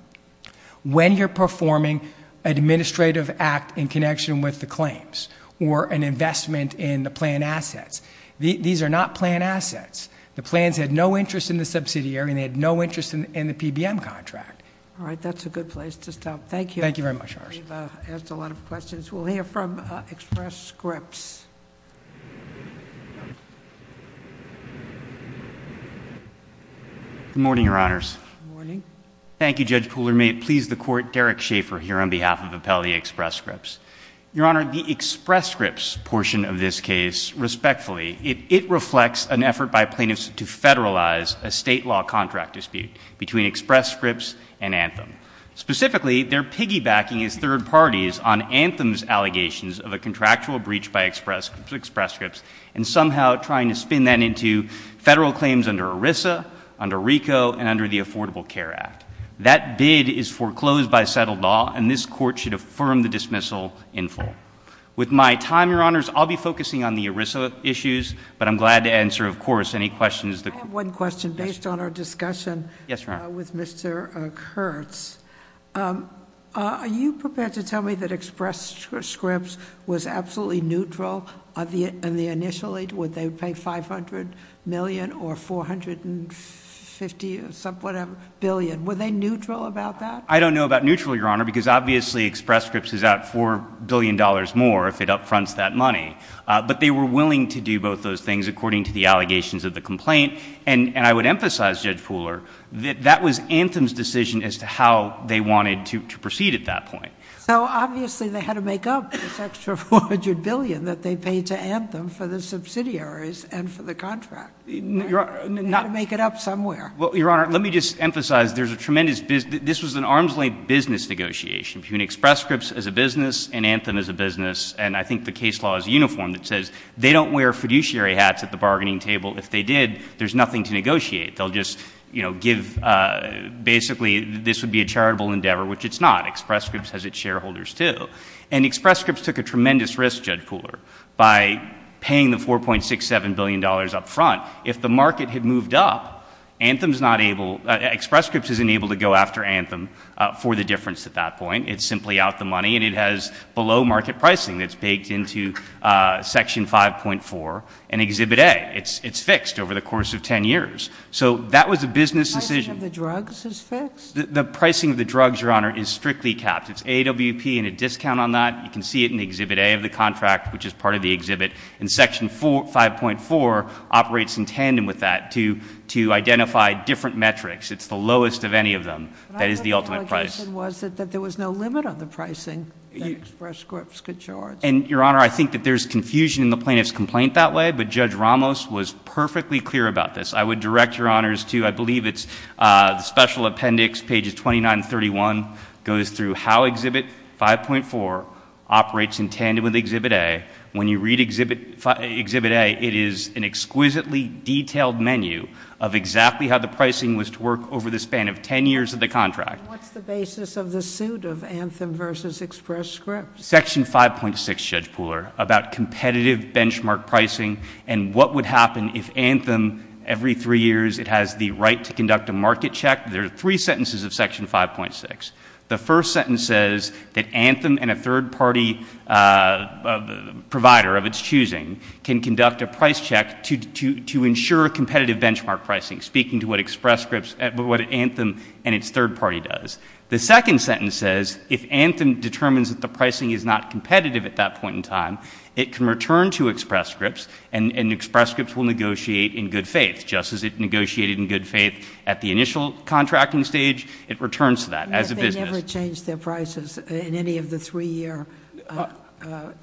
when you're performing an administrative act in connection with the claims or an investment in the plan assets. These are not plan assets. The plans had no interest in the subsidiary, and they had no interest in the PBM contract. All right, that's a good place to stop. Thank you. Thank you very much, Your Honor. We've asked a lot of questions. We'll hear from Express Scripts. Good morning, Your Honors. Good morning. Thank you, Judge Pooler. May it please the Court, Derek Schaefer here on behalf of Appellee Express Scripts. Your Honor, the Express Scripts portion of this case, respectfully, it reflects an effort by plaintiffs to federalize a state law contract dispute between Express Scripts and Anthem. Specifically, they're piggybacking as third parties on Anthem's allegations of a contractual breach by Express Scripts and somehow trying to spin that into federal claims under ERISA, under RICO, and under the Affordable Care Act. That bid is foreclosed by settled law, and this Court should affirm the dismissal in full. With my time, Your Honors, I'll be focusing on the ERISA issues, but I'm glad to answer, of course, any questions. I have one question based on our discussion with Mr. Kurtz. Are you prepared to tell me that Express Scripts was absolutely neutral in the initial aid? Would they pay $500 million or $450 billion? Were they neutral about that? I don't know about neutral, Your Honor, because, obviously, Express Scripts is out $4 billion more if it upfronts that money, but they were willing to do both those things according to the allegations of the complaint, and I would emphasize, Judge Pooler, that that was Anthem's decision as to how they wanted to proceed at that point. So, obviously, they had to make up this extra $400 billion that they paid to Anthem for the subsidiaries and for the contract. They had to make it up somewhere. Well, Your Honor, let me just emphasize there's a tremendous business. This was an arm's-length business negotiation between Express Scripts as a business and Anthem as a business, and I think the case law is uniform. It says they don't wear fiduciary hats at the bargaining table. If they did, there's nothing to negotiate. They'll just, you know, give basically this would be a charitable endeavor, which it's not. Express Scripts has its shareholders, too. And Express Scripts took a tremendous risk, Judge Pooler, by paying the $4.67 billion up front. If the market had moved up, Anthem's not able, Express Scripts isn't able to go after Anthem for the difference at that point. It's simply out the money, and it has below-market pricing that's baked into Section 5.4 and Exhibit A. It's fixed over the course of 10 years. So that was a business decision. The pricing of the drugs is fixed? The pricing of the drugs, Your Honor, is strictly capped. It's AWP and a discount on that. You can see it in Exhibit A of the contract, which is part of the exhibit. And Section 5.4 operates in tandem with that to identify different metrics. It's the lowest of any of them. That is the ultimate price. But our allegation was that there was no limit on the pricing that Express Scripts could charge. And, Your Honor, I think that there's confusion in the plaintiff's complaint that way, but Judge Ramos was perfectly clear about this. I would direct Your Honors to, I believe it's the special appendix, pages 29 and 31, goes through how Exhibit 5.4 operates in tandem with Exhibit A. When you read Exhibit A, it is an exquisitely detailed menu of exactly how the pricing was to work over the span of 10 years of the contract. What's the basis of the suit of Anthem v. Express Scripts? Section 5.6, Judge Pooler, about competitive benchmark pricing and what would happen if Anthem, every three years, it has the right to conduct a market check. There are three sentences of Section 5.6. The first sentence says that Anthem and a third-party provider of its choosing can conduct a price check to ensure competitive benchmark pricing, speaking to what Anthem and its third party does. The second sentence says if Anthem determines that the pricing is not competitive at that point in time, it can return to Express Scripts, and Express Scripts will negotiate in good faith. Just as it negotiated in good faith at the initial contracting stage, it returns to that as a business. They never changed their prices in any of the three-year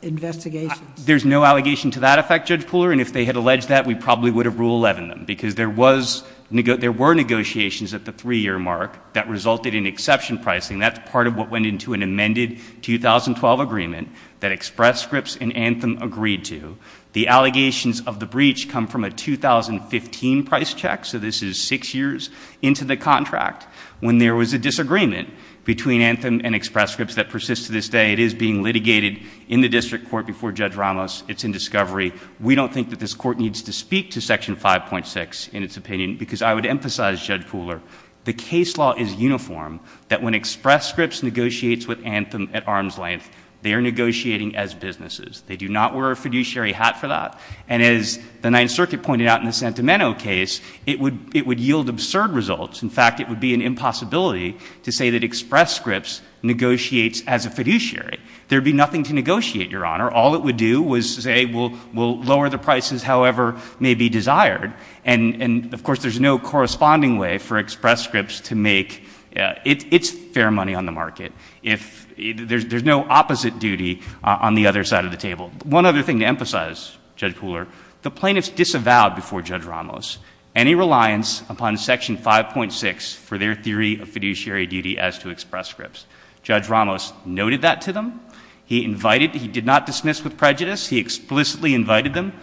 investigations? There's no allegation to that effect, Judge Pooler, and if they had alleged that we probably would have Rule 11ed them because there were negotiations at the three-year mark that resulted in exception pricing. That's part of what went into an amended 2012 agreement that Express Scripts and Anthem agreed to. The allegations of the breach come from a 2015 price check, so this is six years into the contract when there was a disagreement between Anthem and Express Scripts that persists to this day. It is being litigated in the district court before Judge Ramos. It's in discovery. We don't think that this Court needs to speak to Section 5.6 in its opinion because I would emphasize, Judge Pooler, the case law is uniform, that when Express Scripts negotiates with Anthem at arm's length, they are negotiating as businesses. They do not wear a fiduciary hat for that, and as the Ninth Circuit pointed out in the Sentimento case, it would yield absurd results. In fact, it would be an impossibility to say that Express Scripts negotiates as a fiduciary. There would be nothing to negotiate, Your Honor. All it would do was say we'll lower the prices however may be desired, and of course there's no corresponding way for Express Scripts to make its fair money on the market. There's no opposite duty on the other side of the table. One other thing to emphasize, Judge Pooler, the plaintiffs disavowed before Judge Ramos any reliance upon Section 5.6 for their theory of fiduciary duty as to Express Scripts. Judge Ramos noted that to them. He invited, he did not dismiss with prejudice. He explicitly invited them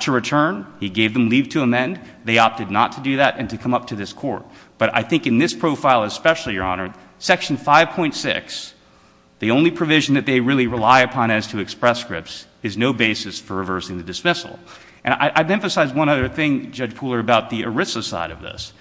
to return. He gave them leave to amend. They opted not to do that and to come up to this Court. But I think in this profile especially, Your Honor, Section 5.6, the only provision that they really rely upon as to Express Scripts is no basis for reversing the dismissal. And I'd emphasize one other thing, Judge Pooler, about the ERISA side of this.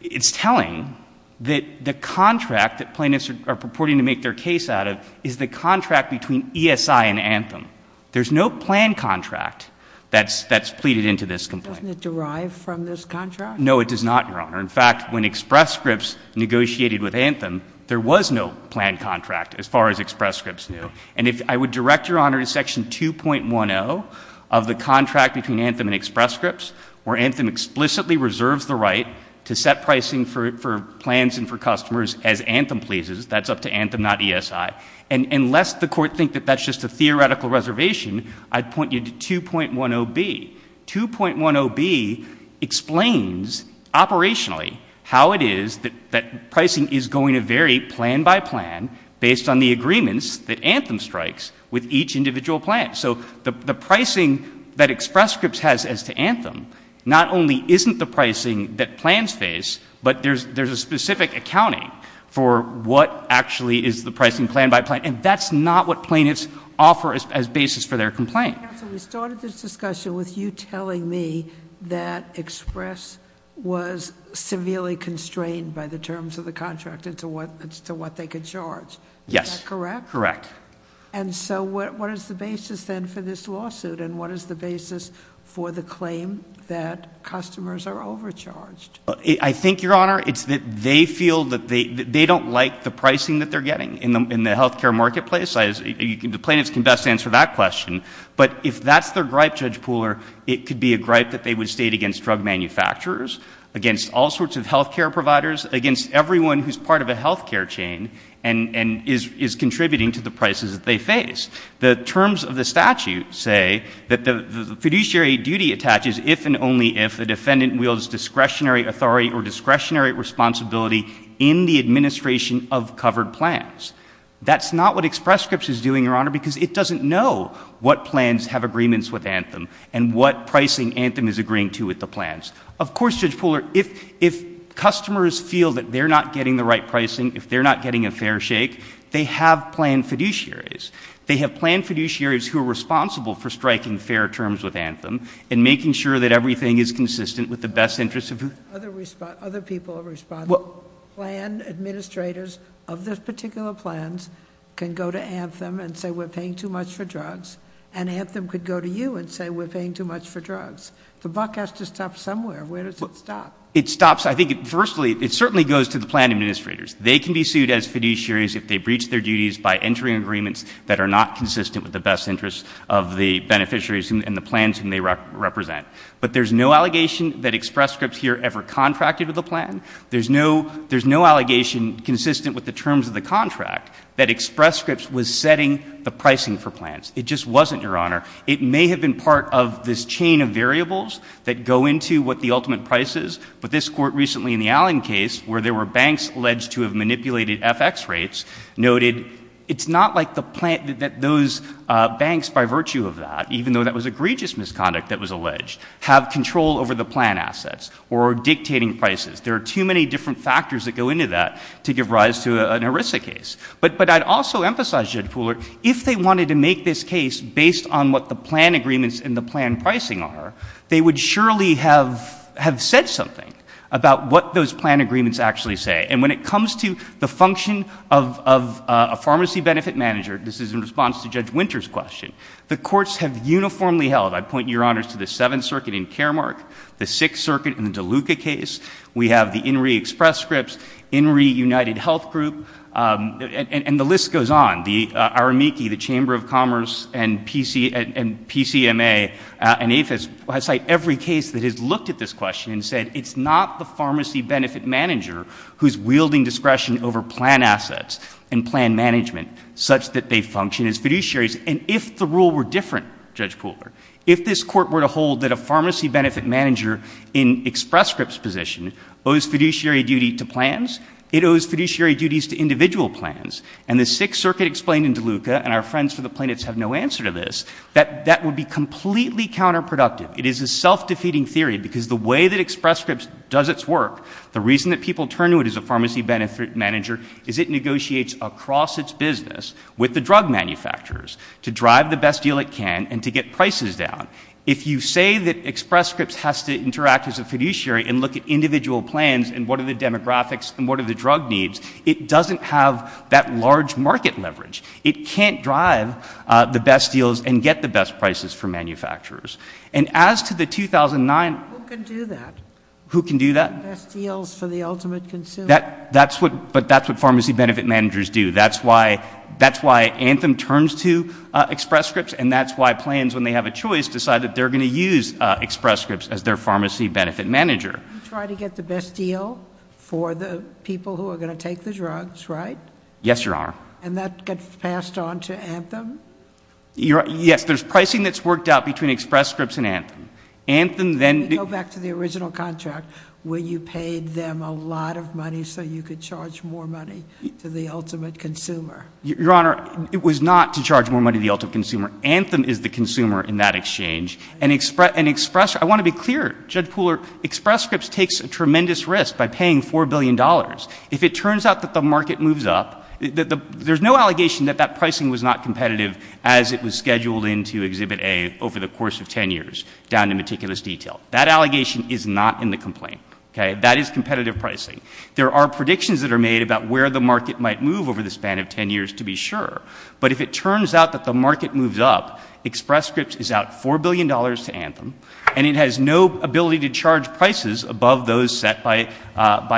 It's telling that the contract that plaintiffs are purporting to make their case out of is the contract between ESI and Anthem. There's no plan contract that's pleaded into this complaint. Doesn't it derive from this contract? No, it does not, Your Honor. In fact, when Express Scripts negotiated with Anthem, there was no plan contract as far as Express Scripts knew. And I would direct Your Honor to Section 2.10 of the contract between Anthem and Express Scripts where Anthem explicitly reserves the right to set pricing for plans and for customers as Anthem pleases. That's up to Anthem, not ESI. And lest the Court think that that's just a theoretical reservation, I'd point you to 2.10b. 2.10b explains operationally how it is that pricing is going to vary plan by plan based on the agreements that Anthem strikes with each individual plan. So the pricing that Express Scripts has as to Anthem not only isn't the pricing that plans face, but there's a specific accounting for what actually is the pricing plan by plan. And that's not what plaintiffs offer as basis for their complaint. Counsel, we started this discussion with you telling me that Express was severely constrained by the terms of the contract as to what they could charge. Yes. Is that correct? Correct. And so what is the basis then for this lawsuit, and what is the basis for the claim that customers are overcharged? I think, Your Honor, it's that they feel that they don't like the pricing that they're getting in the health care marketplace. The plaintiffs can best answer that question. But if that's their gripe, Judge Pooler, it could be a gripe that they would state against drug manufacturers, against all sorts of health care providers, against everyone who's part of a health care chain and is contributing to the prices that they face. The terms of the statute say that the fiduciary duty attaches if and only if the defendant wields discretionary authority or discretionary responsibility in the administration of covered plans. That's not what Express Scripts is doing, Your Honor, because it doesn't know what plans have agreements with Anthem and what pricing Anthem is agreeing to with the plans. Of course, Judge Pooler, if customers feel that they're not getting the right pricing, if they're not getting a fair shake, they have planned fiduciaries. They have planned fiduciaries who are responsible for striking fair terms with Anthem and making sure that everything is consistent with the best interests of the— Other people are responsible. Plan administrators of those particular plans can go to Anthem and say, we're paying too much for drugs, and Anthem could go to you and say, we're paying too much for drugs. The buck has to stop somewhere. Where does it stop? It stops, I think, firstly, it certainly goes to the plan administrators. They can be sued as fiduciaries if they breach their duties by entering agreements that are not consistent with the best interests of the beneficiaries and the plans whom they represent. But there's no allegation that Express Scripts here ever contracted with the plan. There's no — there's no allegation consistent with the terms of the contract that Express Scripts was setting the pricing for plans. It just wasn't, Your Honor. It may have been part of this chain of variables that go into what the ultimate price is, but this Court recently in the Allen case, where there were banks alleged to have manipulated FX rates, noted it's not like the plan — that those banks, by virtue of that, even though that was egregious misconduct that was alleged, have control over the plan assets or dictating prices. There are too many different factors that go into that to give rise to an ERISA case. But I'd also emphasize, Judge Pooler, if they wanted to make this case based on what the plan agreements and the plan pricing are, they would surely have said something about what those plan agreements actually say. And when it comes to the function of a pharmacy benefit manager, this is in response to Judge Winter's question, the courts have uniformly held — I point, Your Honors, to the Seventh Circuit in Caremark, the Sixth Circuit in the DeLuca case. We have the INRI Express Scripts, INRI United Health Group, and the list goes on. The Aramiki, the Chamber of Commerce, and PCMA, and APHIS, cite every case that has looked at this question and said it's not the pharmacy benefit manager who's wielding discretion over plan assets and plan management such that they function as fiduciaries. And if the rule were different, Judge Pooler, if this Court were to hold that a pharmacy benefit manager in Express Scripts' position owes fiduciary duty to plans, it owes fiduciary duties to individual plans, and the Sixth Circuit explained in DeLuca, and our friends for the plaintiffs have no answer to this, that that would be completely counterproductive. It is a self-defeating theory because the way that Express Scripts does its work, the reason that people turn to it as a pharmacy benefit manager is it negotiates across its business with the drug manufacturers to drive the best deal it can and to get prices down. If you say that Express Scripts has to interact as a fiduciary and look at individual plans and what are the demographics and what are the drug needs, it doesn't have that large market leverage. It can't drive the best deals and get the best prices for manufacturers. And as to the 2009— Who can do that? Who can do that? Best deals for the ultimate consumer. That's what pharmacy benefit managers do. That's why Anthem turns to Express Scripts and that's why plans, when they have a choice, decide that they're going to use Express Scripts as their pharmacy benefit manager. You try to get the best deal for the people who are going to take the drugs, right? Yes, Your Honor. And that gets passed on to Anthem? Yes. There's pricing that's worked out between Express Scripts and Anthem. Anthem then— You go back to the original contract where you paid them a lot of money so you could charge more money to the ultimate consumer. Your Honor, it was not to charge more money to the ultimate consumer. Anthem is the consumer in that exchange. And Express—I want to be clear. Judge Pooler, Express Scripts takes a tremendous risk by paying $4 billion. If it turns out that the market moves up, there's no allegation that that pricing was not competitive as it was scheduled in to Exhibit A over the course of 10 years down to meticulous detail. That allegation is not in the complaint. Okay? That is competitive pricing. There are predictions that are made about where the market might move over the span of 10 years to be sure. But if it turns out that the market moves up, Express Scripts is out $4 billion to Anthem, and it has no ability to charge prices above those set by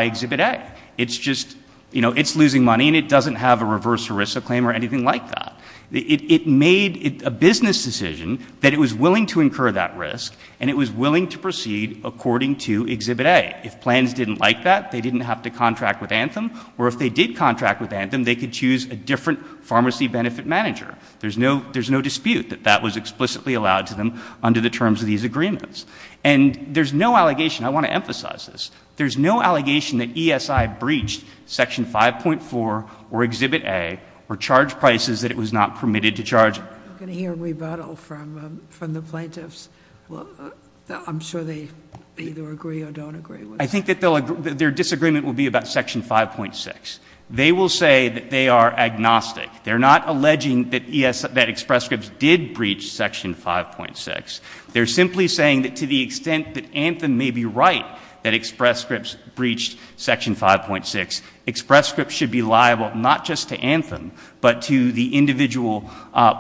Exhibit A. It's just—you know, it's losing money, and it doesn't have a reverse ERISA claim or anything like that. It made a business decision that it was willing to incur that risk, and it was willing to proceed according to Exhibit A. Yet if plans didn't like that, they didn't have to contract with Anthem, or if they did contract with Anthem, they could choose a different pharmacy benefit manager. There's no dispute that that was explicitly allowed to them under the terms of these agreements. And there's no allegation—I want to emphasize this— there's no allegation that ESI breached Section 5.4 or Exhibit A or charged prices that it was not permitted to charge. I'm going to hear a rebuttal from the plaintiffs. I'm sure they either agree or don't agree. I think that their disagreement will be about Section 5.6. They will say that they are agnostic. They're not alleging that Express Scripts did breach Section 5.6. They're simply saying that to the extent that Anthem may be right that Express Scripts breached Section 5.6, Express Scripts should be liable not just to Anthem, but to the individual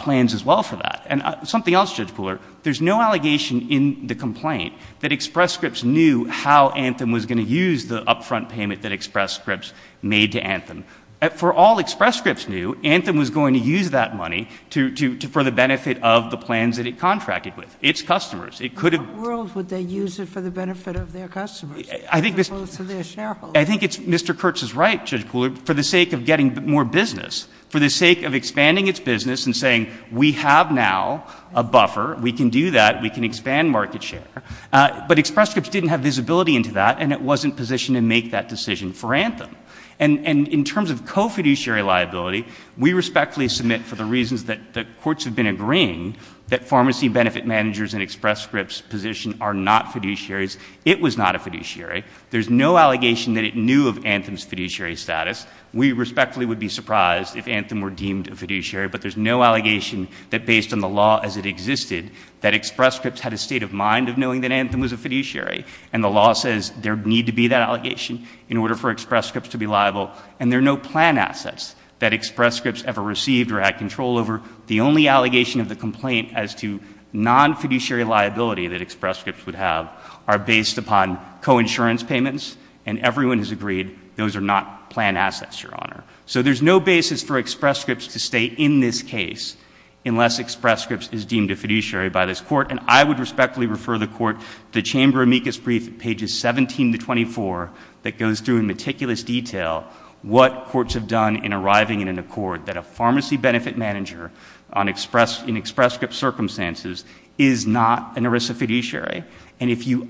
plans as well for that. And something else, Judge Kuhler, there's no allegation in the complaint that Express Scripts knew how Anthem was going to use the upfront payment that Express Scripts made to Anthem. For all Express Scripts knew, Anthem was going to use that money for the benefit of the plans that it contracted with, its customers. In what world would they use it for the benefit of their customers as opposed to their shareholders? I think Mr. Kurtz is right, Judge Kuhler, for the sake of getting more business, for the sake of expanding its business and saying we have now a buffer, we can do that, we can expand market share. But Express Scripts didn't have visibility into that, and it wasn't positioned to make that decision for Anthem. And in terms of co-fiduciary liability, we respectfully submit for the reasons that the courts have been agreeing, that pharmacy benefit managers in Express Scripts' position are not fiduciaries. It was not a fiduciary. There's no allegation that it knew of Anthem's fiduciary status. We respectfully would be surprised if Anthem were deemed a fiduciary, but there's no allegation that based on the law as it existed, that Express Scripts had a state of mind of knowing that Anthem was a fiduciary. And the law says there need to be that allegation in order for Express Scripts to be liable, and there are no plan assets that Express Scripts ever received or had control over. The only allegation of the complaint as to non-fiduciary liability that Express Scripts would have are based upon co-insurance payments, and everyone has agreed those are not plan assets, Your Honor. So there's no basis for Express Scripts to stay in this case unless Express Scripts is deemed a fiduciary by this Court, and I would respectfully refer the Court to the Chamber amicus brief, pages 17 to 24, that goes through in meticulous detail what courts have done in arriving in an accord that a pharmacy benefit manager in Express Scripts' circumstances is not an ERISA fiduciary. And if you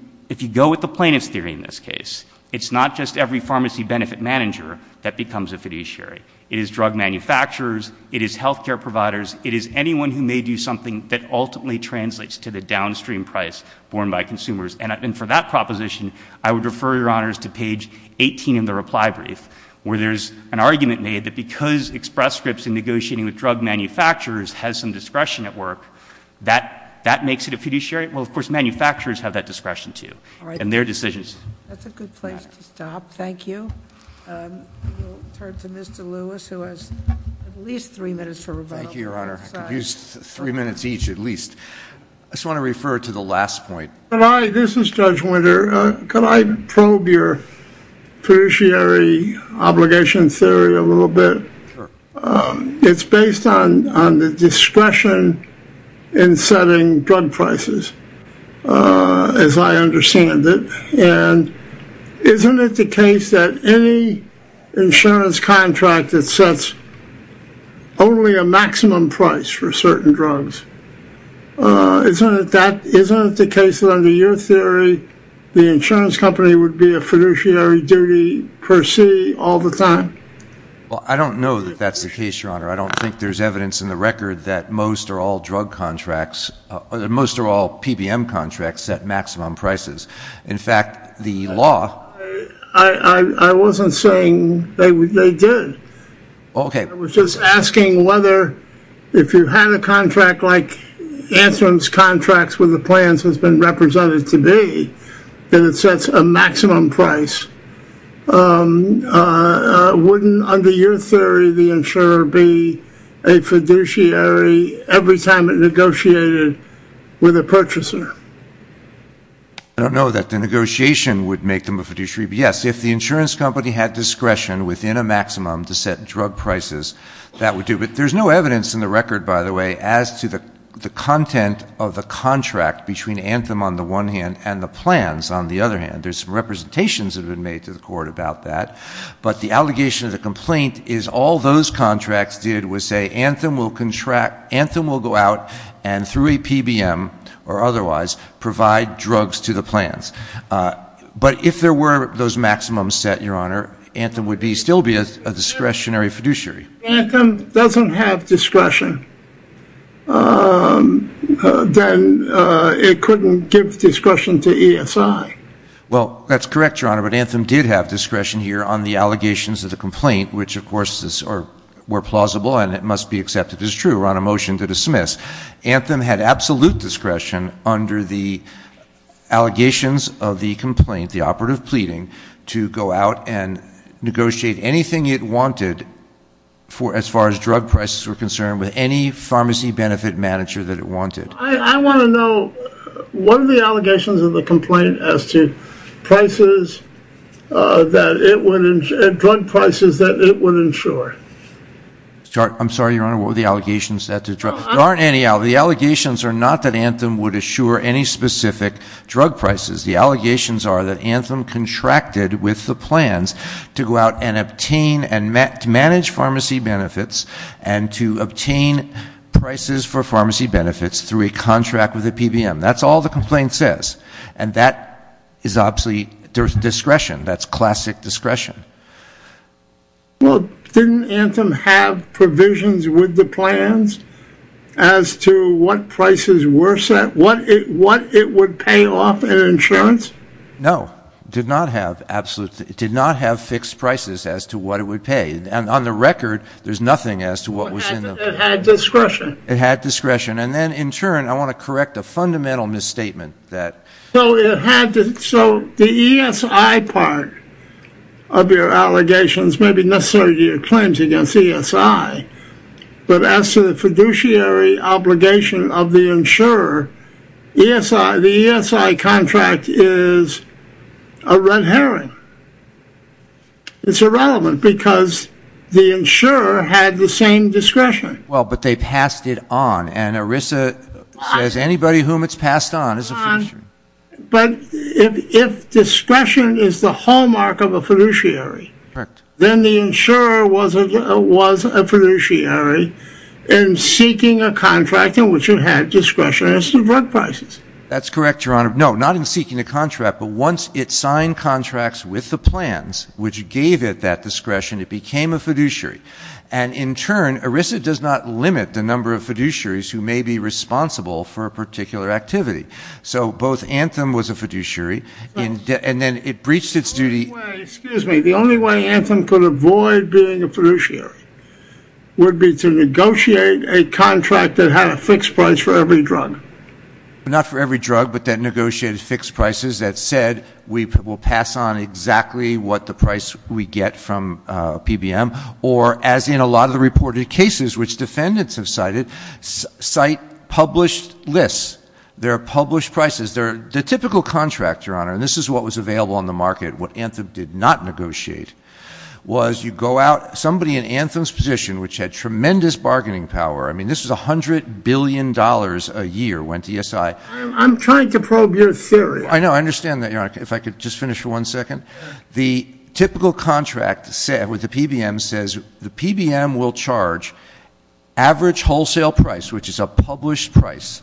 go with the plaintiff's theory in this case, it's not just every pharmacy benefit manager that becomes a fiduciary. It is drug manufacturers. It is health care providers. It is anyone who may do something that ultimately translates to the downstream price borne by consumers. And for that proposition, I would refer, Your Honors, to page 18 in the reply brief, where there's an argument made that because Express Scripts in negotiating with drug manufacturers has some discretion at work, that makes it a fiduciary. Well, of course, manufacturers have that discretion, too, and their decisions matter. That's a good place to stop. Thank you. We'll turn to Mr. Lewis, who has at least three minutes for rebuttal. Thank you, Your Honor. I could use three minutes each at least. I just want to refer to the last point. This is Judge Winter. Could I probe your fiduciary obligation theory a little bit? Sure. It's based on the discretion in setting drug prices, as I understand it. And isn't it the case that any insurance contract that sets only a maximum price for certain drugs, isn't it the case that under your theory the insurance company would be a fiduciary duty per se all the time? Well, I don't know that that's the case, Your Honor. I don't think there's evidence in the record that most or all PBM contracts set maximum prices. In fact, the law… I wasn't saying they did. Okay. I was just asking whether if you had a contract like Antrim's contracts with the plans has been represented to be, that it sets a maximum price, wouldn't under your theory the insurer be a fiduciary every time it negotiated with a purchaser? I don't know that the negotiation would make them a fiduciary. But, yes, if the insurance company had discretion within a maximum to set drug prices, that would do. But there's no evidence in the record, by the way, as to the content of the contract between Antrim on the one hand and the plans on the other hand. There's representations that have been made to the court about that. But the allegation of the complaint is all those contracts did was say Antrim will contract, Antrim will go out and through a PBM or otherwise provide drugs to the plans. But if there were those maximum set, Your Honor, Antrim would still be a discretionary fiduciary. If Antrim doesn't have discretion, then it couldn't give discretion to ESI. Well, that's correct, Your Honor. But Antrim did have discretion here on the allegations of the complaint, which, of course, were plausible and it must be accepted as true. Yes, Antrim had absolute discretion under the allegations of the complaint, the operative pleading, to go out and negotiate anything it wanted for as far as drug prices were concerned with any pharmacy benefit manager that it wanted. I want to know what are the allegations of the complaint as to prices that it would, drug prices that it would insure? I'm sorry, Your Honor, what were the allegations? There aren't any. The allegations are not that Antrim would insure any specific drug prices. The allegations are that Antrim contracted with the plans to go out and obtain and manage pharmacy benefits and to obtain prices for pharmacy benefits through a contract with a PBM. That's all the complaint says. And that is obviously discretion. That's classic discretion. Well, didn't Antrim have provisions with the plans as to what prices were set, what it would pay off in insurance? No, it did not have fixed prices as to what it would pay. And on the record, there's nothing as to what was in them. It had discretion. It had discretion. And then, in turn, I want to correct a fundamental misstatement that So the ESI part of your allegations may be necessary to your claims against ESI, but as to the fiduciary obligation of the insurer, the ESI contract is a red herring. It's irrelevant because the insurer had the same discretion. Well, but they passed it on. And ERISA says anybody whom it's passed on is a fiduciary. But if discretion is the hallmark of a fiduciary, then the insurer was a fiduciary in seeking a contract in which it had discretion as to what prices. That's correct, Your Honor. No, not in seeking a contract, but once it signed contracts with the plans, which gave it that discretion, it became a fiduciary. And, in turn, ERISA does not limit the number of fiduciaries who may be responsible for a particular activity. So both Anthem was a fiduciary, and then it breached its duty. Excuse me. The only way Anthem could avoid being a fiduciary would be to negotiate a contract that had a fixed price for every drug. Not for every drug, but that negotiated fixed prices that said, we'll pass on exactly what the price we get from PBM. Or, as in a lot of the reported cases which defendants have cited, cite published lists. There are published prices. The typical contract, Your Honor, and this is what was available on the market, what Anthem did not negotiate, was you go out, somebody in Anthem's position, which had tremendous bargaining power, I mean, this was $100 billion a year went to ESI. I'm trying to probe your theory. I know. I understand that, Your Honor. If I could just finish for one second. The typical contract with the PBM says the PBM will charge average wholesale price, which is a published price,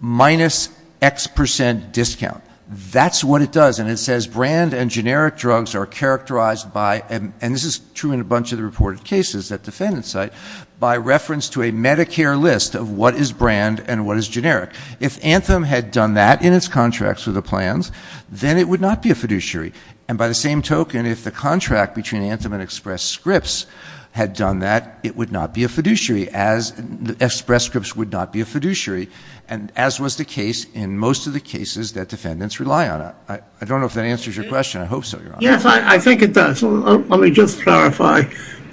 minus X percent discount. That's what it does, and it says brand and generic drugs are characterized by, and this is true in a bunch of the reported cases that defendants cite, by reference to a Medicare list of what is brand and what is generic. If Anthem had done that in its contracts with the plans, then it would not be a fiduciary. And by the same token, if the contract between Anthem and Express Scripts had done that, it would not be a fiduciary, as Express Scripts would not be a fiduciary, as was the case in most of the cases that defendants rely on. I don't know if that answers your question. I hope so, Your Honor. Yes, I think it does. Let me just clarify.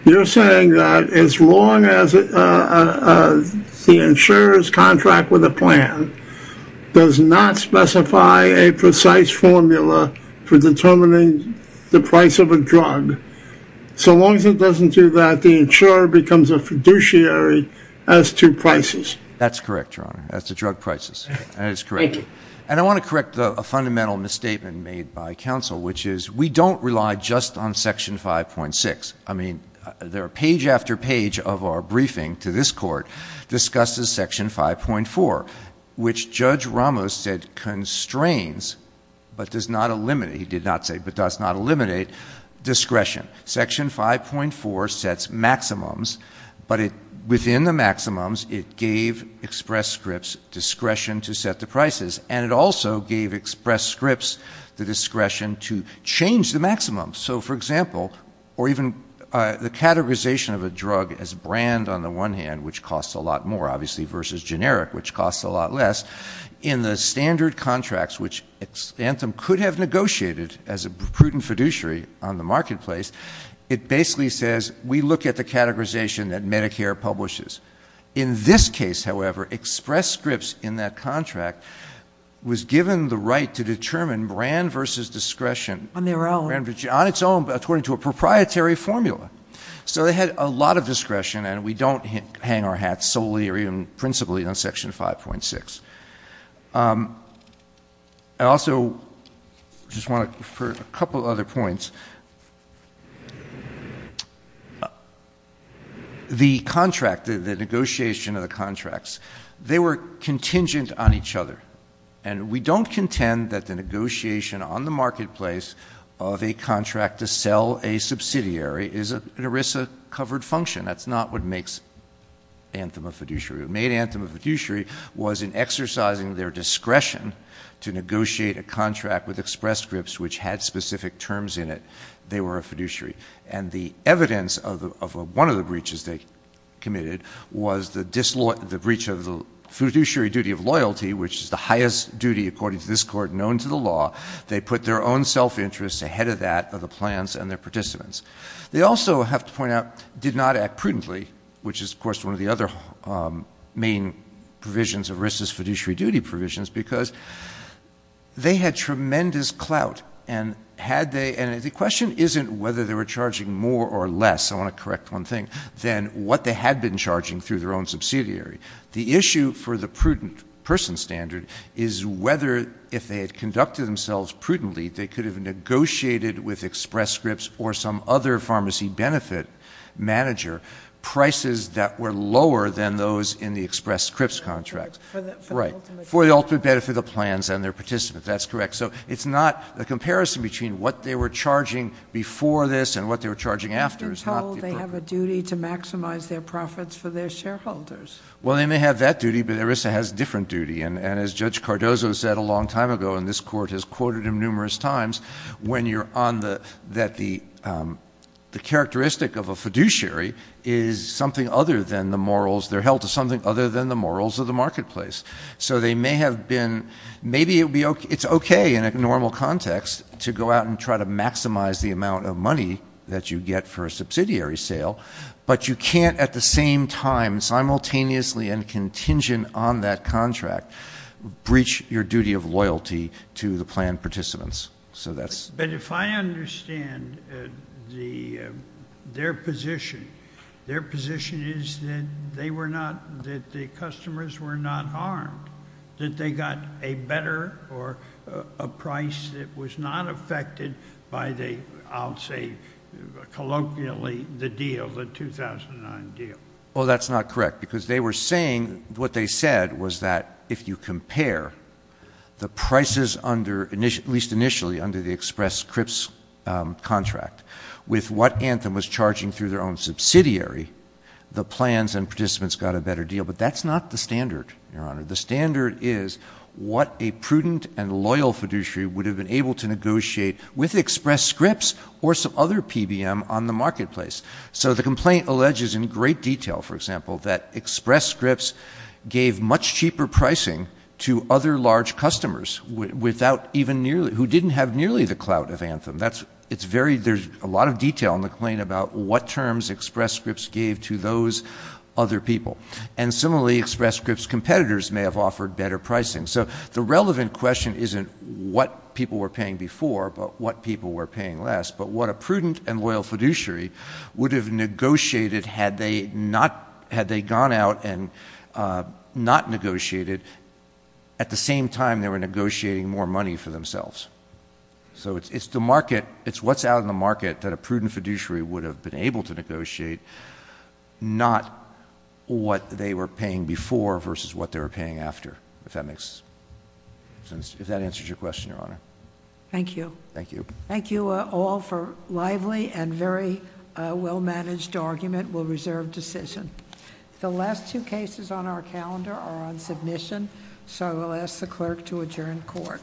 You're saying that as long as the insurer's contract with a plan does not specify a precise formula for determining the price of a drug, so long as it doesn't do that, the insurer becomes a fiduciary as to prices. That's correct, Your Honor. As to drug prices, that is correct. Thank you. And I want to correct a fundamental misstatement made by counsel, which is we don't rely just on Section 5.6. I mean, page after page of our briefing to this Court discusses Section 5.4, which Judge Ramos said constrains but does not eliminate, he did not say, but does not eliminate discretion. Section 5.4 sets maximums, but within the maximums, it gave Express Scripts discretion to set the prices, and it also gave Express Scripts the discretion to change the maximums. So, for example, or even the categorization of a drug as brand on the one hand, which costs a lot more, obviously, versus generic, which costs a lot less. In the standard contracts, which Xantham could have negotiated as a prudent fiduciary on the marketplace, it basically says we look at the categorization that Medicare publishes. In this case, however, Express Scripts in that contract was given the right to determine brand versus discretion. On their own. On its own, according to a proprietary formula. So they had a lot of discretion, and we don't hang our hats solely or even principally on Section 5.6. I also just want to refer to a couple other points. The contract, the negotiation of the contracts, they were contingent on each other, and we don't contend that the negotiation on the marketplace of a contract to sell a subsidiary is an ERISA-covered function. That's not what makes Xantham a fiduciary. What made Xantham a fiduciary was in exercising their discretion to negotiate a contract with Express Scripts, which had specific terms in it, they were a fiduciary. And the evidence of one of the breaches they committed was the breach of the fiduciary duty of loyalty, which is the highest duty, according to this Court, known to the law. They put their own self-interest ahead of that of the plans and their participants. They also, I have to point out, did not act prudently, which is, of course, one of the other main provisions of ERISA's fiduciary duty provisions, because they had tremendous clout, and the question isn't whether they were charging more or less, I want to correct one thing, than what they had been charging through their own subsidiary. The issue for the prudent person standard is whether, if they had conducted themselves prudently, they could have negotiated with Express Scripts or some other pharmacy benefit manager prices that were lower than those in the Express Scripts contract. For the ultimate benefit of the plans and their participants. That's correct. So it's not a comparison between what they were charging before this and what they were charging after. They have been told they have a duty to maximize their profits for their shareholders. Well, they may have that duty, but ERISA has a different duty. And as Judge Cardozo said a long time ago, and this court has quoted him numerous times, when you're on the, that the characteristic of a fiduciary is something other than the morals, they're held to something other than the morals of the marketplace. So they may have been, maybe it's okay in a normal context to go out and try to maximize the amount of money that you get for a subsidiary sale, but you can't at the same time, simultaneously and contingent on that contract, breach your duty of loyalty to the plan participants. So that's. But if I understand their position, their position is that they were not, that the customers were not harmed. That they got a better or a price that was not affected by the, I'll say colloquially, the deal, the 2009 deal. Well, that's not correct. Because they were saying, what they said was that if you compare the prices under, at least initially under the Express Scripts contract with what Anthem was charging through their own subsidiary, the plans and participants got a better deal. But that's not the standard, Your Honor. The standard is what a prudent and loyal fiduciary would have been able to negotiate with Express Scripts or some other PBM on the marketplace. So the complaint alleges in great detail, for example, that Express Scripts gave much cheaper pricing to other large customers without even nearly, who didn't have nearly the clout of Anthem. That's, it's very, there's a lot of detail in the claim about what terms Express Scripts gave to those other people. And similarly, Express Scripts competitors may have offered better pricing. So the relevant question isn't what people were paying before, but what people were paying less. But what a prudent and loyal fiduciary would have negotiated had they not, had they gone out and not negotiated at the same time they were negotiating more money for themselves. So it's the market, it's what's out in the market that a prudent fiduciary would have been able to negotiate, not what they were paying before versus what they were paying after, if that makes sense. If that answers your question, Your Honor. Thank you. Thank you. Thank you all for lively and very well managed argument. We'll reserve decision. The last two cases on our calendar are on submission, so I will ask the clerk to adjourn court.